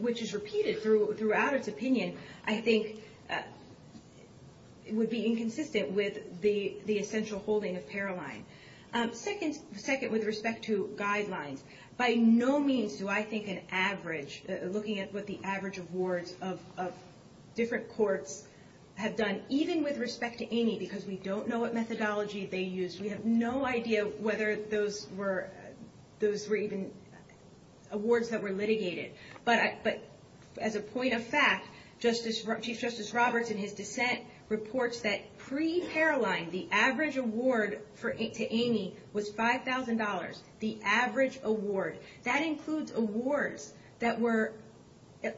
which is repeated throughout its opinion, I think would be inconsistent with the essential holding of Paroline. Second, with respect to guidelines, by no means do I think an average, looking at what the average of wards of different courts have done, even with respect to Amy, because we don't know what methodology they used. We have no idea whether those were even awards that were litigated. But as a point of fact, Chief Justice Roberts, in his dissent, reports that pre-Paroline, the average award to Amy was $5,000. The average award. That includes awards that were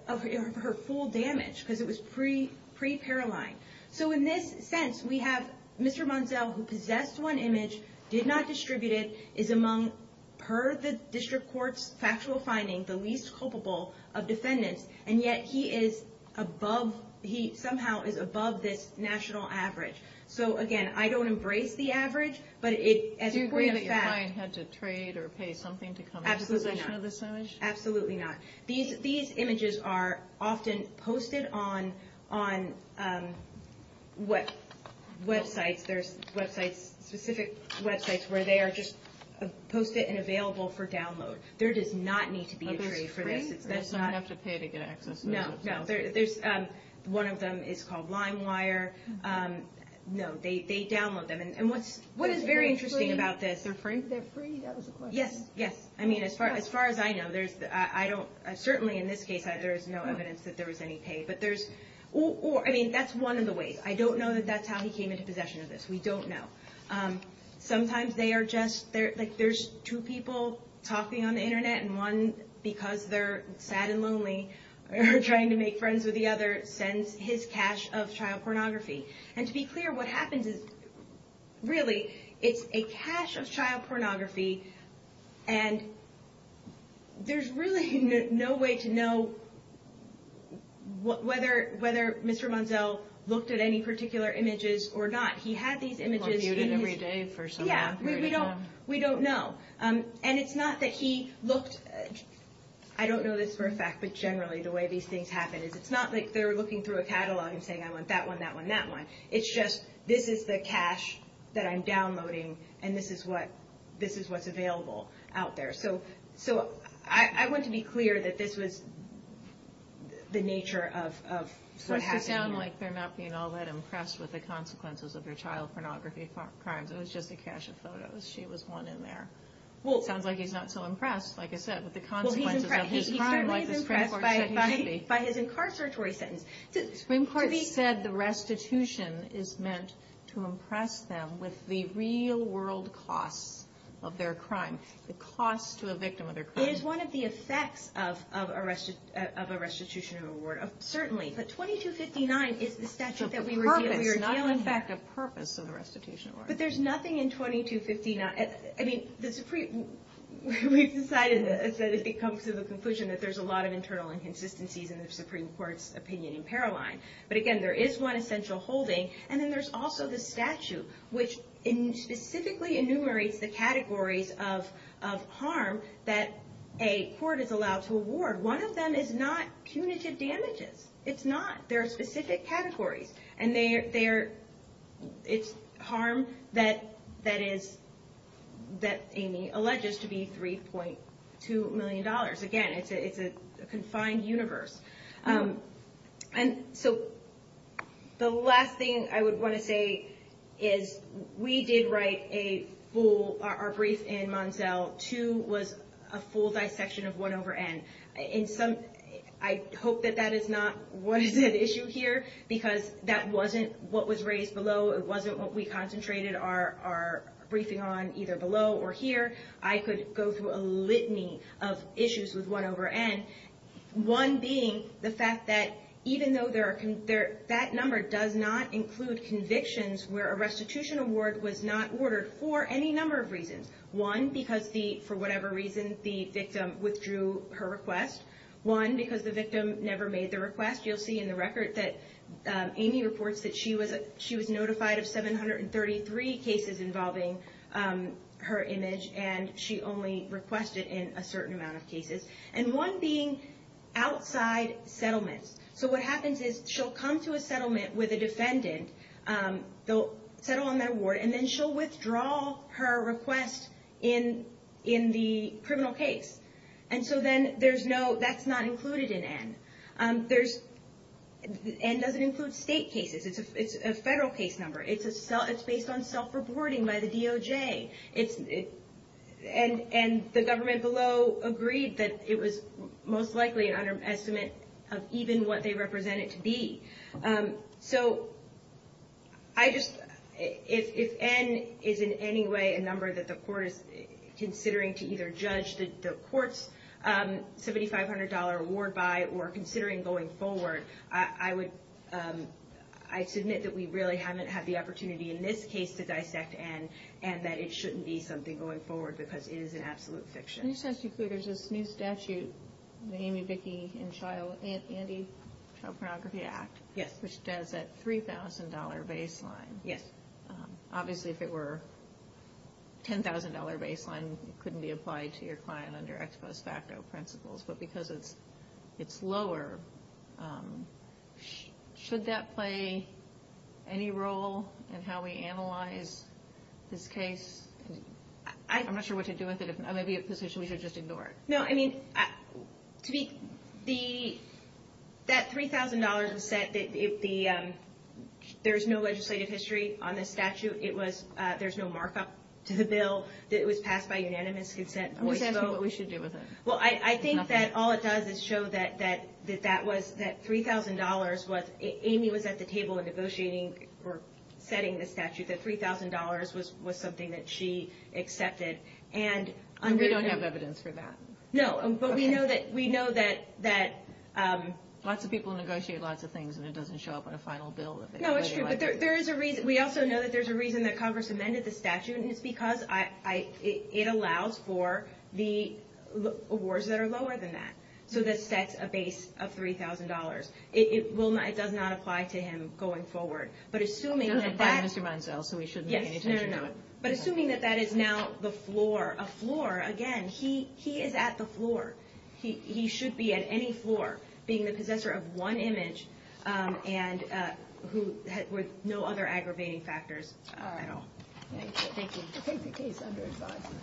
of her full damage because it was pre-Paroline. So in this sense, we have Mr. Munsell, who possessed one image, did not distribute it, is among, per the district court's factual finding, the least culpable of defendants, and yet he is above, he somehow is above this national average. So again, I don't embrace the average, but as a point of fact... Do you agree that your client had to trade or pay something to come into possession of this image? Absolutely not. These images are often posted on websites. There's specific websites where they are just posted and available for download. There does not need to be a trade for this. Does someone have to pay to get access? No, no. One of them is called LimeWire. No, they download them. And what is very interesting about this... They're free? Yes, yes. I mean, as far as I know, I don't... Certainly in this case, there is no evidence that there was any pay. But there's... I mean, that's one of the ways. I don't know that that's how he came into possession of this. We don't know. Sometimes they are just... There's two people talking on the Internet, and one, because they're sad and lonely, or trying to make friends with the other, sends his cache of child pornography. And to be clear, what happens is... It's a cache of child pornography. And there's really no way to know whether Mr. Monzel looked at any particular images or not. He had these images. He was muted every day for some half a year at a time. Yeah, we don't know. And it's not that he looked... I don't know this for a fact, but generally the way these things happen is... It's not like they're looking through a catalog and saying, I want that one, that one, that one. It's just, this is the cache that I'm downloading, and this is what's available out there. So I want to be clear that this was the nature of what happened here. So it should sound like they're not being all that impressed with the consequences of your child pornography crimes. It was just a cache of photos. She was one in there. Well... Sounds like he's not so impressed, like I said, with the consequences of his crime, like the Supreme Court said he should be. He certainly is impressed by his incarceratory sentence. The Supreme Court said the restitution is meant to impress them with the real world costs of their crime. The cost to a victim of their crime. It is one of the effects of a restitution award, certainly. But 2259 is the statute that we were dealing with. It's not, in fact, a purpose of the restitution award. But there's nothing in 2259... I mean, the Supreme... We've decided that if it comes to the conclusion that there's a lot of internal inconsistencies in the Supreme Court's opinion in Paroline. But again, there is one essential holding. And then there's also the statute, which specifically enumerates the categories of harm that a court is allowed to award. One of them is not punitive damages. It's not. There are specific categories. And it's harm that Amy alleges to be $3.2 million. Again, it's a confined universe. And so the last thing I would want to say is we did write a full... Our brief in Monzell 2 was a full dissection of 1 over N. I hope that that is not what is at issue here, because that wasn't what was raised below. It wasn't what we concentrated our briefing on, either below or here. I could go through a litany of issues with 1 over N, one being the fact that even though that number does not include convictions where a restitution award was not ordered for any number of reasons. One, because for whatever reason the victim withdrew her request. One, because the victim never made the request. You'll see in the record that Amy reports that she was notified of 733 cases involving her image. And she only requested in a certain amount of cases. And one being outside settlements. So what happens is she'll come to a settlement with a defendant. They'll settle on their award. And then she'll withdraw her request in the criminal case. And so then that's not included in N. N doesn't include state cases. It's a federal case number. It's based on self-reporting by the DOJ. And the government below agreed that it was most likely an underestimate of even what they represent it to be. So if N is in any way a number that the court is considering to either judge the court's $7,500 award by or considering going forward, I submit that we really haven't had the opportunity in this case to dissect N and that it shouldn't be something going forward because it is an absolute fiction. Let me just ask you, there's this new statute, the Amy, Vicki, and Andy Child Pornography Act. Yes. Which does that $3,000 baseline. Yes. Obviously, if it were $10,000 baseline, it couldn't be applied to your client under ex post facto principles. But because it's lower, should that play any role in how we analyze this case? I'm not sure what to do with it. Maybe we should just ignore it. No, I mean, that $3,000 was set. There's no legislative history on this statute. There's no markup to the bill. It was passed by unanimous consent. I'm just asking what we should do with it. Well, I think that all it does is show that $3,000 was, Amy was at the table negotiating or setting the statute, that $3,000 was something that she accepted. We don't have evidence for that. No, but we know that. Lots of people negotiate lots of things and it doesn't show up on a final bill. No, it's true. We also know that there's a reason that Congress amended the statute, and it's because it allows for the awards that are lower than that. So this sets a base of $3,000. It does not apply to him going forward. But assuming that that is now a floor, again, he is at the floor. He should be at any floor being the possessor of one image and with no other aggravating factors at all. All right. Thank you. Thank you. I take the case under advisement.